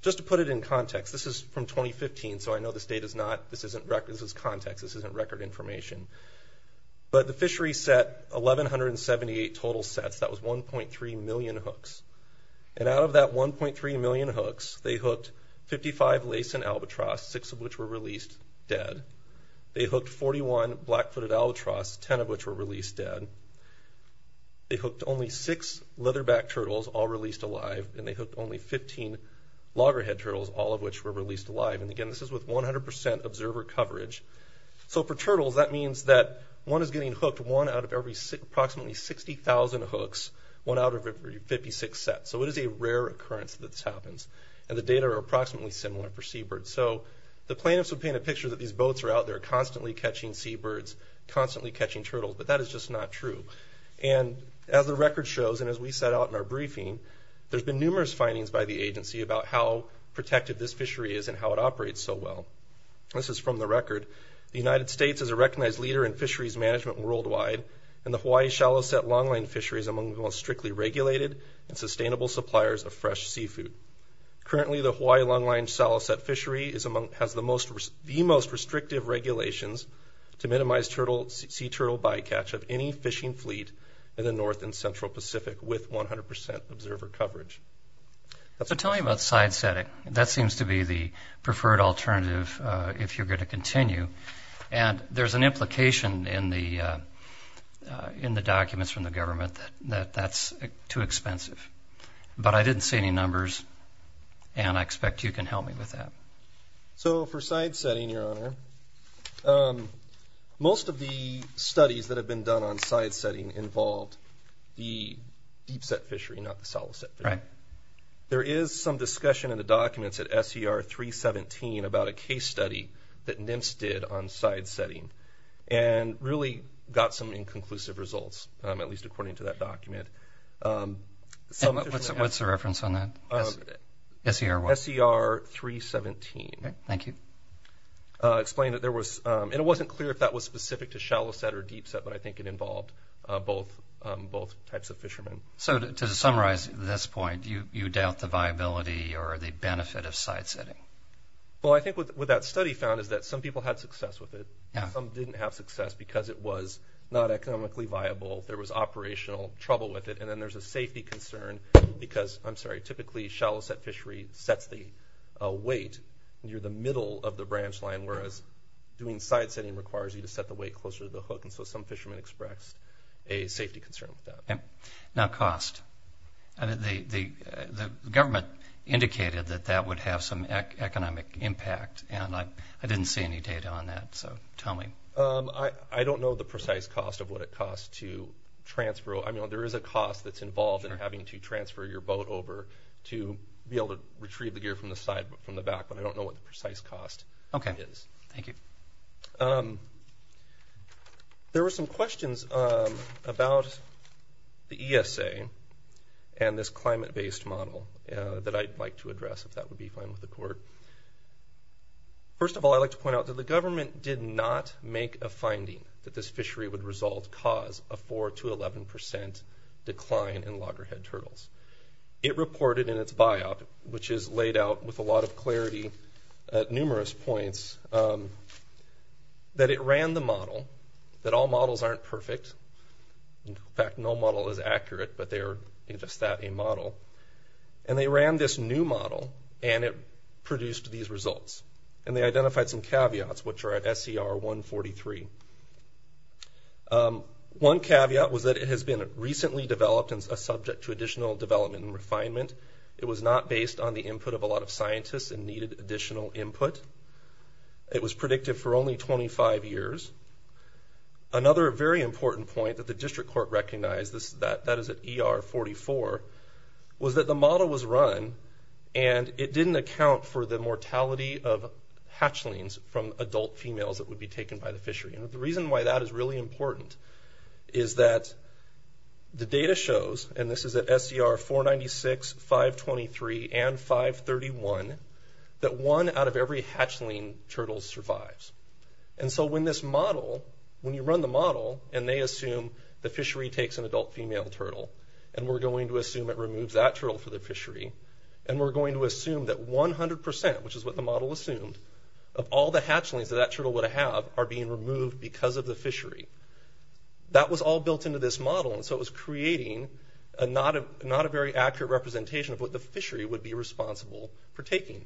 Just to put it in context, this is from 2015, so I know this data is not – this isn't – this is context. This isn't record information. But the fishery set 1,178 total sets. That was 1.3 million hooks. And out of that 1.3 million hooks, they hooked 55 lace and albatross, six of which were released dead. They hooked 41 black-footed albatross, 10 of which were released dead. They hooked only six leatherback turtles, all released alive. And they hooked only 15 loggerhead turtles, all of which were released alive. And again, this is with 100 percent observer coverage. So for turtles, that means that one is getting hooked one out of every approximately 60,000 hooks, one out of every 56 sets. So it is a rare occurrence that this happens. And the data are approximately similar for seabirds. So the plan is to paint a picture that these boats are out there constantly catching seabirds, constantly catching turtles. But that is just not true. And as the record shows, and as we set out in our briefing, there's been numerous findings by the agency about how protected this fishery is and how it operates so well. This is from the record. The United States is a recognized leader in fisheries management worldwide, and the Hawaii shallow-set longline fishery is among the most strictly regulated and sustainable suppliers of fresh seafood. Currently, the Hawaii longline shallow-set fishery has the most restrictive regulations to minimize sea turtle bycatch of any fishing fleet in the North and Central Pacific with 100 percent observer coverage. So tell me about side setting. That seems to be the preferred alternative if you're going to continue. And there's an implication in the documents from the government that that's too expensive. But I didn't see any numbers, and I expect you can help me with that. So for side setting, Your Honor, most of the studies that have been done on side setting involve the deep-set fishery, not the shallow-set fishery. There is some discussion in the documents at SER 317 about a case study that NINSS did on side setting and really got some inconclusive results, at least according to that document. What's the reference on that? SER 317. Thank you. It wasn't clear if that was specific to shallow-set or deep-set, but I think it involved both types of fishermen. So to summarize this point, you doubt the viability or the benefit of side setting? Well, I think what that study found is that some people had success with it and some didn't have success because it was not economically viable, there was operational trouble with it, and then there's a safety concern because typically shallow-set fishery sets the weight near the middle of the branch line, whereas doing side setting requires you to set the weight closer to the hook, and so some fishermen expressed a safety concern with that. Now cost. The government indicated that that would have some economic impact, and I didn't see any data on that, so tell me. I don't know the precise cost of what it costs to transfer. I mean, there is a cost that's involved in having to transfer your boat over to be able to retrieve the gear from the back, but I don't know what the precise cost is. Okay. Thank you. There were some questions about the ESA and this climate-based model that I'd like to address, if that would be fine with the court. First of all, I'd like to point out that the government did not make a finding that this fishery would result cause a 4% to 11% decline in loggerhead turtles. It reported in its biop, which is laid out with a lot of clarity at numerous points, that it ran the model, that all models aren't perfect. In fact, no model is accurate, but they are a model. And they ran this new model, and it produced these results. And they identified some caveats, which are at SCR 143. One caveat was that it has been recently developed and is subject to additional development and refinement. It was not based on the input of a lot of scientists and needed additional input. It was predicted for only 25 years. Another very important point that the district court recognized, that is at ER 44, was that the model was run, and it didn't account for the mortality of hatchlings from adult females that would be taken by the fishery. And the reason why that is really important is that the data shows, and this is at SCR 496, 523, and 531, that one out of every hatchling turtle survives. And so when this model, when you run the model, and they assume the fishery takes an adult female turtle, and we're going to assume it removes that turtle for the fishery, and we're going to assume that 100%, which is what the model assumed, of all the hatchlings that that turtle would have are being removed because of the fishery. That was all built into this model, and so it was creating not a very accurate representation of what the fishery would be responsible for taking.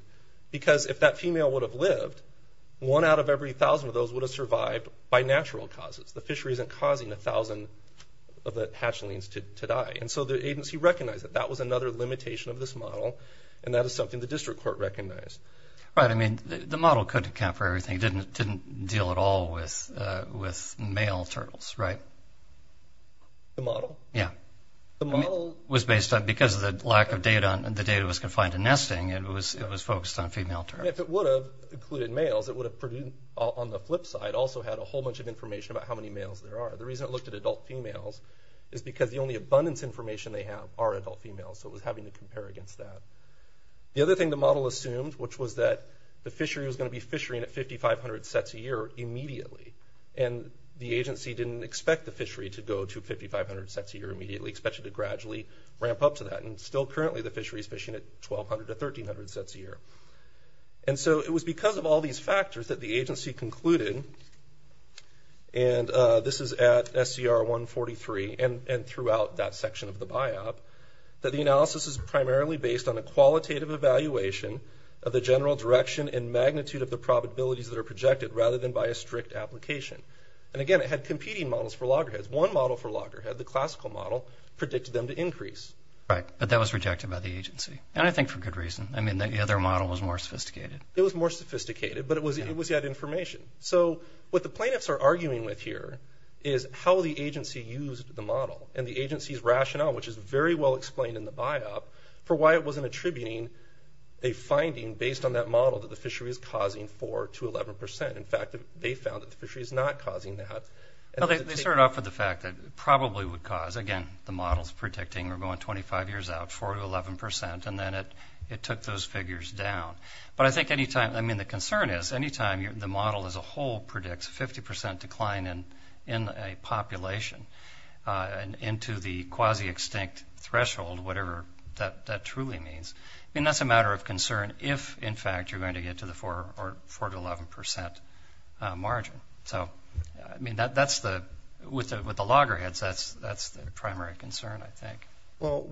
And so the agency recognized that that was another limitation of this model, and that is something the district court recognized. Right, I mean, the model couldn't account for everything. It didn't deal at all with male turtles, right? The model? Yeah. The model was based on, because of the lack of data, and that is something the district court recognized. If it would have included males, it would have, on the flip side, also had a whole bunch of information about how many males there are. The reason it looked at adult females is because the only abundance information they have are adult females, so it was having to compare against that. The other thing the model assumed, which was that the fishery was going to be fishering at 5,500 sets a year immediately, and the agency didn't expect the fishery to go to 5,500 sets a year immediately, expected it to gradually ramp up to that, and still currently the fishery is fishing at 1,200 to 1,300 sets a year. And so it was because of all these factors that the agency concluded, and this is at SCR 143 and throughout that section of the BIOP, that the analysis is primarily based on a qualitative evaluation of the general direction and magnitude of the probabilities that are projected rather than by a strict application. And again, it had competing models for loggerheads. Right, but that was rejected by the agency, and I think for good reason. I mean, the other model was more sophisticated. It was more sophisticated, but it was that information. So what the plaintiffs are arguing with here is how the agency used the model and the agency's rationale, which is very well explained in the BIOP, for why it wasn't attributing a finding based on that model that the fishery is causing 4 to 11 percent. In fact, they found that the fishery is not causing that. Well, they started off with the fact that it probably would cause, again, the models predicting we're going 25 years out, 4 to 11 percent, and then it took those figures down. But I think any time – I mean, the concern is any time the model as a whole predicts 50 percent decline in a population and into the quasi-extinct threshold, whatever that truly means, I mean, that's a matter of concern if, in fact, you're going to get to the 4 to 11 percent margin. I mean, with the loggerheads, that's the primary concern, I think. Well,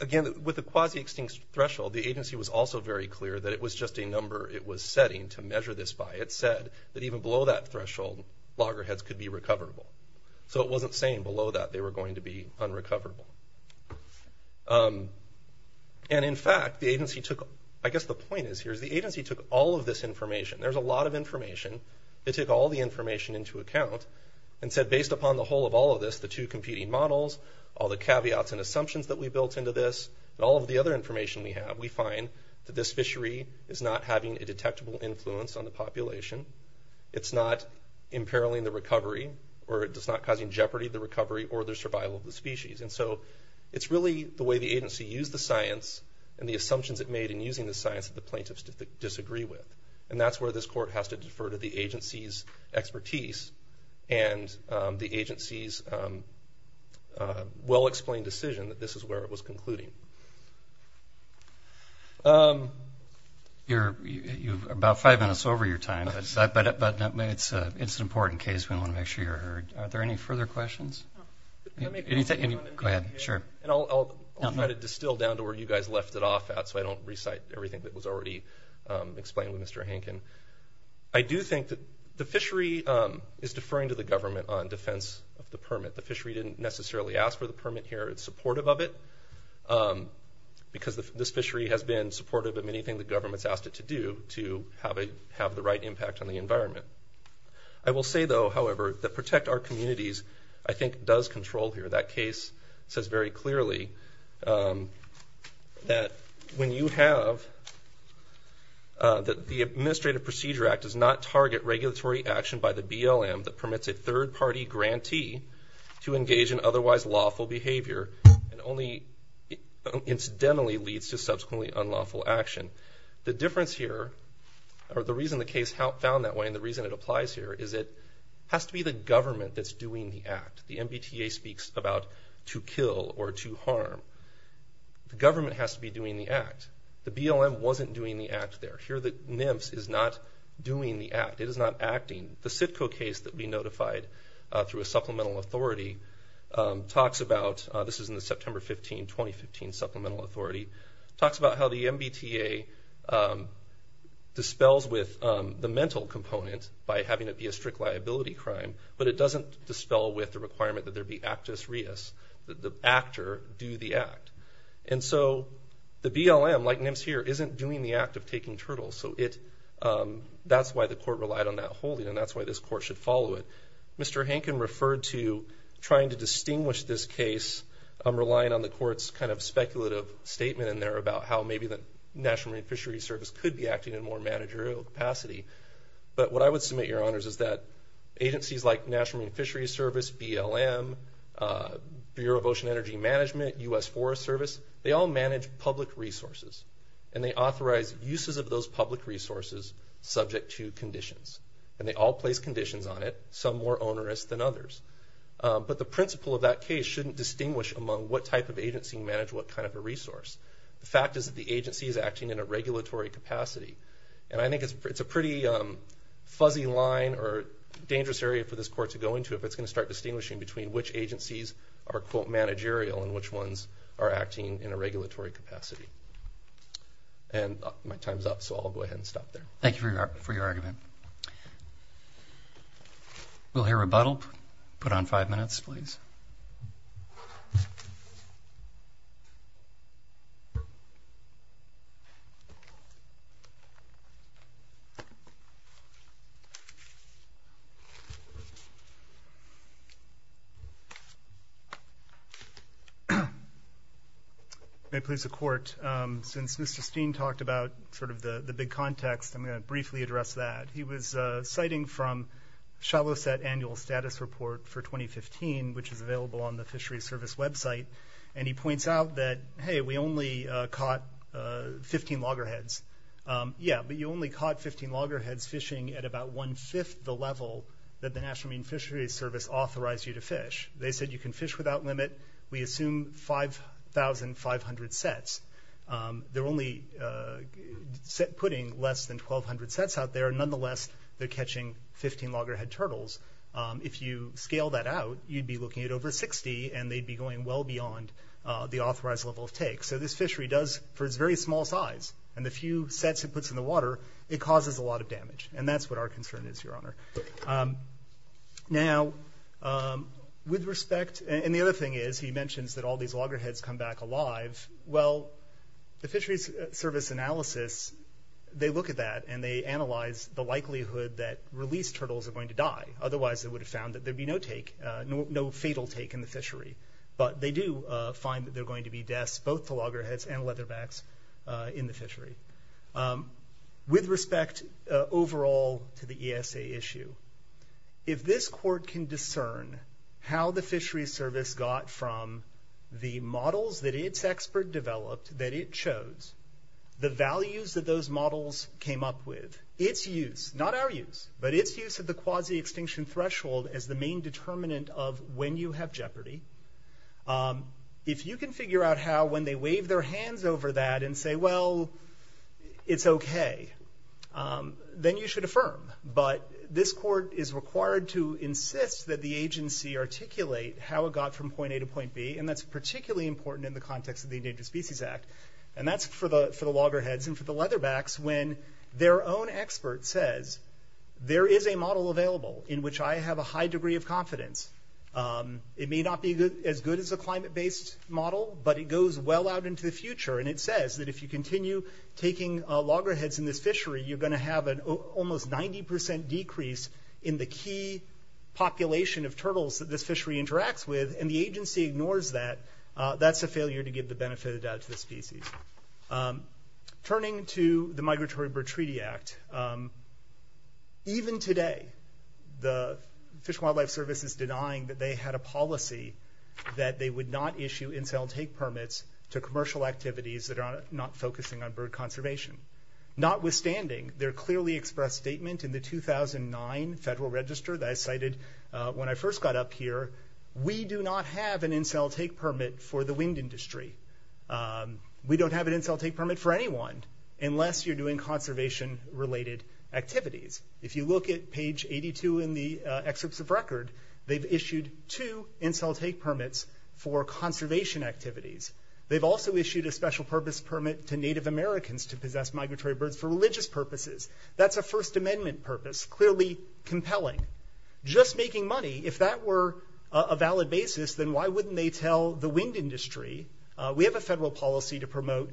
again, with the quasi-extinct threshold, the agency was also very clear that it was just a number it was setting to measure this by. It said that even below that threshold, loggerheads could be recoverable. So it wasn't saying below that they were going to be unrecoverable. And, in fact, the agency took – I guess the point is here is the agency took all of this information. There's a lot of information. It took all the information into account and said, based upon the whole of all of this, the two competing models, all the caveats and assumptions that we built into this, and all of the other information we have, we find that this fishery is not having a detectable influence on the population. It's not imperiling the recovery, or it's not causing jeopardy to the recovery or the survival of the species. And so it's really the way the agency used the science and the assumptions it made in using the science that the plaintiffs disagree with. And that's where this court has to defer to the agency's expertise and the agency's well-explained decision that this is where it was concluding. You're about five minutes over your time. But it's an important case, and I want to make sure you're heard. Are there any further questions? Go ahead. Sure. And I'll try to distill down to where you guys left it off at so I don't recite everything that was already explained with Mr. Hankin. I do think that the fishery is deferring to the government on defense of the permit. The fishery didn't necessarily ask for the permit here. It's supportive of it because this fishery has been supportive of many things the government's asked it to do to have the right impact on the environment. I will say, though, however, that Protect Our Communities, I think, does control here. And that case says very clearly that when you have the Administrative Procedure Act does not target regulatory action by the BLM that permits a third-party grantee to engage in otherwise lawful behavior and only incidentally leads to subsequently unlawful action. The difference here, or the reason the case is found that way and the reason it applies here, is it has to be the government that's doing the act. The MBTA speaks about to kill or to harm. The government has to be doing the act. The BLM wasn't doing the act there. Here the NIMS is not doing the act. It is not acting. The CITCO case that we notified through a supplemental authority talks about this is in the September 15, 2015 Supplemental Authority, talks about how the MBTA dispels with the mental component by having it be a strict liability crime, but it doesn't dispel with the requirement that there be actus reus, that the actor do the act. And so the BLM, like NIMS here, isn't doing the act of taking turtles. So that's why the court relied on that holding, and that's why this court should follow it. Mr. Hankin referred to trying to distinguish this case, relying on the court's kind of speculative statement in there about how maybe the National Marine Fisheries Service could be acting in more managerial capacity. But what I would submit, Your Honors, is that agencies like National Marine Fisheries Service, BLM, Bureau of Ocean Energy Management, U.S. Forest Service, they all manage public resources, and they authorize uses of those public resources subject to conditions, and they all place conditions on it, some more onerous than others. But the principle of that case shouldn't distinguish among what type of agency managed what kind of a resource. The fact is that the agency is acting in a regulatory capacity, and I think it's a pretty fuzzy line or dangerous area for this court to go into if it's going to start distinguishing between which agencies are, quote, managerial and which ones are acting in a regulatory capacity. And my time's up, so I'll go ahead and stop there. Thank you for your argument. We'll hear rebuttal. Put on five minutes, please. Thank you. May it please the Court, since Mr. Steen talked about sort of the big context, I'm going to briefly address that. He was citing from Shalo's annual status report for 2015, which is available on the Fisheries Service website, and he points out that, hey, we only caught 15 loggerheads. Yeah, but you only caught 15 loggerheads fishing at about one-fifth the level that the National Marine Fisheries Service authorized you to fish. They said you can fish without limit. We assume 5,500 sets. They're only putting less than 1,200 sets out there. Nonetheless, they're catching 15 loggerhead turtles. If you scale that out, you'd be looking at over 60, and they'd be going well beyond the authorized level of take. So this fishery does, for its very small size and the few sets it puts in the water, it causes a lot of damage, and that's what our concern is, Your Honor. Now, with respect, and the other thing is, he mentions that all these loggerheads come back alive. Well, the Fisheries Service analysis, they look at that, and they analyze the likelihood that released turtles are going to die. Otherwise, they would have found that there'd be no fatal take in the fishery. But they do find that there are going to be deaths, both the loggerheads and leatherbacks, in the fishery. With respect, overall, to the ESA issue, if this court can discern how the Fisheries Service got from the models that its expert developed, that it chose, the values that those models came up with, its use, not our use, but its use of the quasi-extinction threshold as the main determinant of when you have jeopardy, if you can figure out how, when they wave their hands over that and say, well, it's okay, then you should affirm. But this court is required to insist that the agency articulate how it got from point A to point B, and that's particularly important in the context of the Endangered Species Act. And that's for the loggerheads and for the leatherbacks, when their own expert says, there is a model available in which I have a high degree of confidence. It may not be as good as a climate-based model, but it goes well out into the future, and it says that if you continue taking loggerheads in the fishery, you're going to have an almost 90% decrease in the key population of turtles that the fishery interacts with, and the agency ignores that. That's a failure to give the benefit of the doubt to the species. Turning to the Migratory Bird Treaty Act, even today the Fish and Wildlife Service is denying that they had a policy that they would not issue infill take permits to commercial activities that are not focusing on bird conservation. Notwithstanding their clearly expressed statement in the 2009 Federal Register that I cited when I first got up here, we do not have an infill take permit for the wind industry. We don't have an infill take permit for anyone unless you're doing conservation-related activities. If you look at page 82 in the Exhibits of Record, they've issued two infill take permits for conservation activities. They've also issued a special purpose permit to Native Americans to possess migratory birds for religious purposes. That's a First Amendment purpose, clearly compelling. Just making money, if that were a valid basis, then why wouldn't they tell the wind industry? We have a federal policy to promote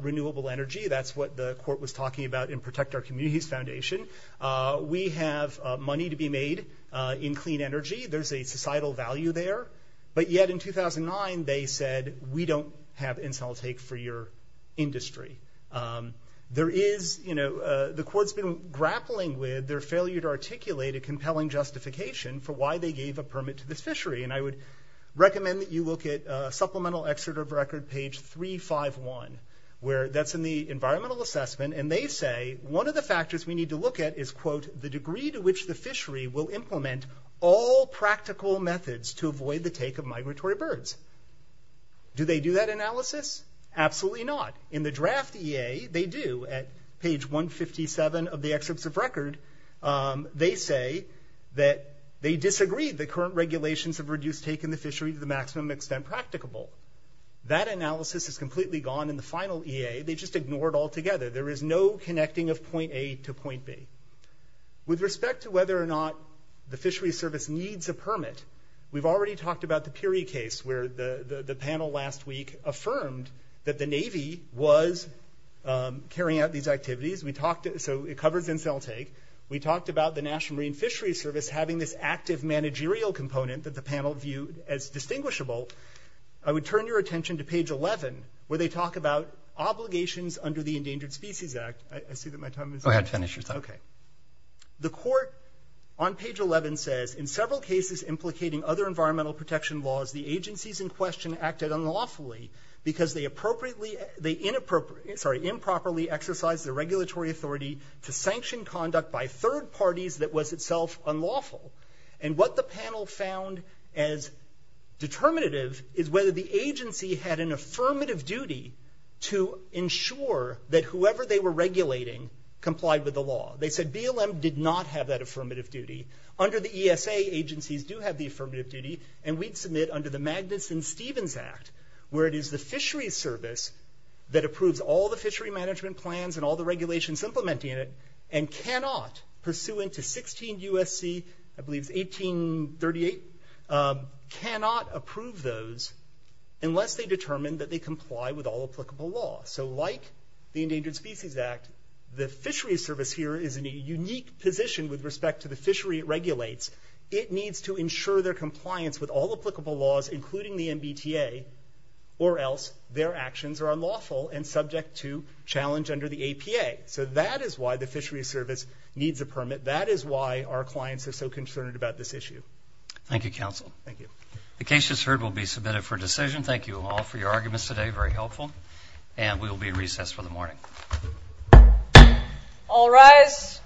renewable energy. That's what the court was talking about in Protect Our Communities Foundation. We have money to be made in clean energy. There's a societal value there. But yet in 2009 they said we don't have infill take for your industry. The court's been grappling with their failure to articulate a compelling justification for why they gave a permit to the fishery. And I would recommend that you look at Supplemental Exhibit of Record, page 351. That's in the Environmental Assessment. And they say one of the factors we need to look at is, quote, the degree to which the fishery will implement all practical methods to avoid the take of migratory birds. Do they do that analysis? Absolutely not. In the draft EA, they do. At page 157 of the Excerpt of Record, they say that they disagreed that current regulations have reduced take in the fishery to the maximum extent practicable. That analysis is completely gone in the final EA. They just ignored it altogether. There is no connecting of point A to point B. With respect to whether or not the fishery service needs a permit, we've already talked about the Piri case where the panel last week affirmed that the Navy was carrying out these activities. So it covered infill take. We talked about the National Marine Fishery Service having this active managerial component that the panel viewed as distinguishable. I would turn your attention to page 11 where they talk about obligations under the Endangered Species Act. I see that my time is up. Go ahead, finish your talk. Okay. The court on page 11 says, in several cases implicating other environmental protection laws, the agencies in question acted unlawfully because they inappropriately exercised their regulatory authority to sanction conduct by third parties that was itself unlawful. And what the panel found as determinative is whether the agency had an affirmative duty to ensure that whoever they were regulating complied with the law. They said BLM did not have that affirmative duty. Under the ESA, agencies do have the affirmative duty, and we'd submit under the Magnuson-Stevens Act where it is the fishery service that approves all the fishery management plans and all the regulations implementing it and cannot, pursuant to 16 U.S.C., I believe 1838, cannot approve those unless they determine that they comply with all applicable law. So like the Endangered Species Act, the fishery service here is in a unique position with respect to the fishery it regulates. It needs to ensure their compliance with all applicable laws, including the MBTA, or else their actions are unlawful and subject to challenge under the APA. So that is why the fishery service needs a permit. That is why our clients are so concerned about this issue. Thank you, counsel. Thank you. The case just heard will be submitted for decision. Thank you all for your arguments today, very helpful. And we will be in recess for the morning. All rise.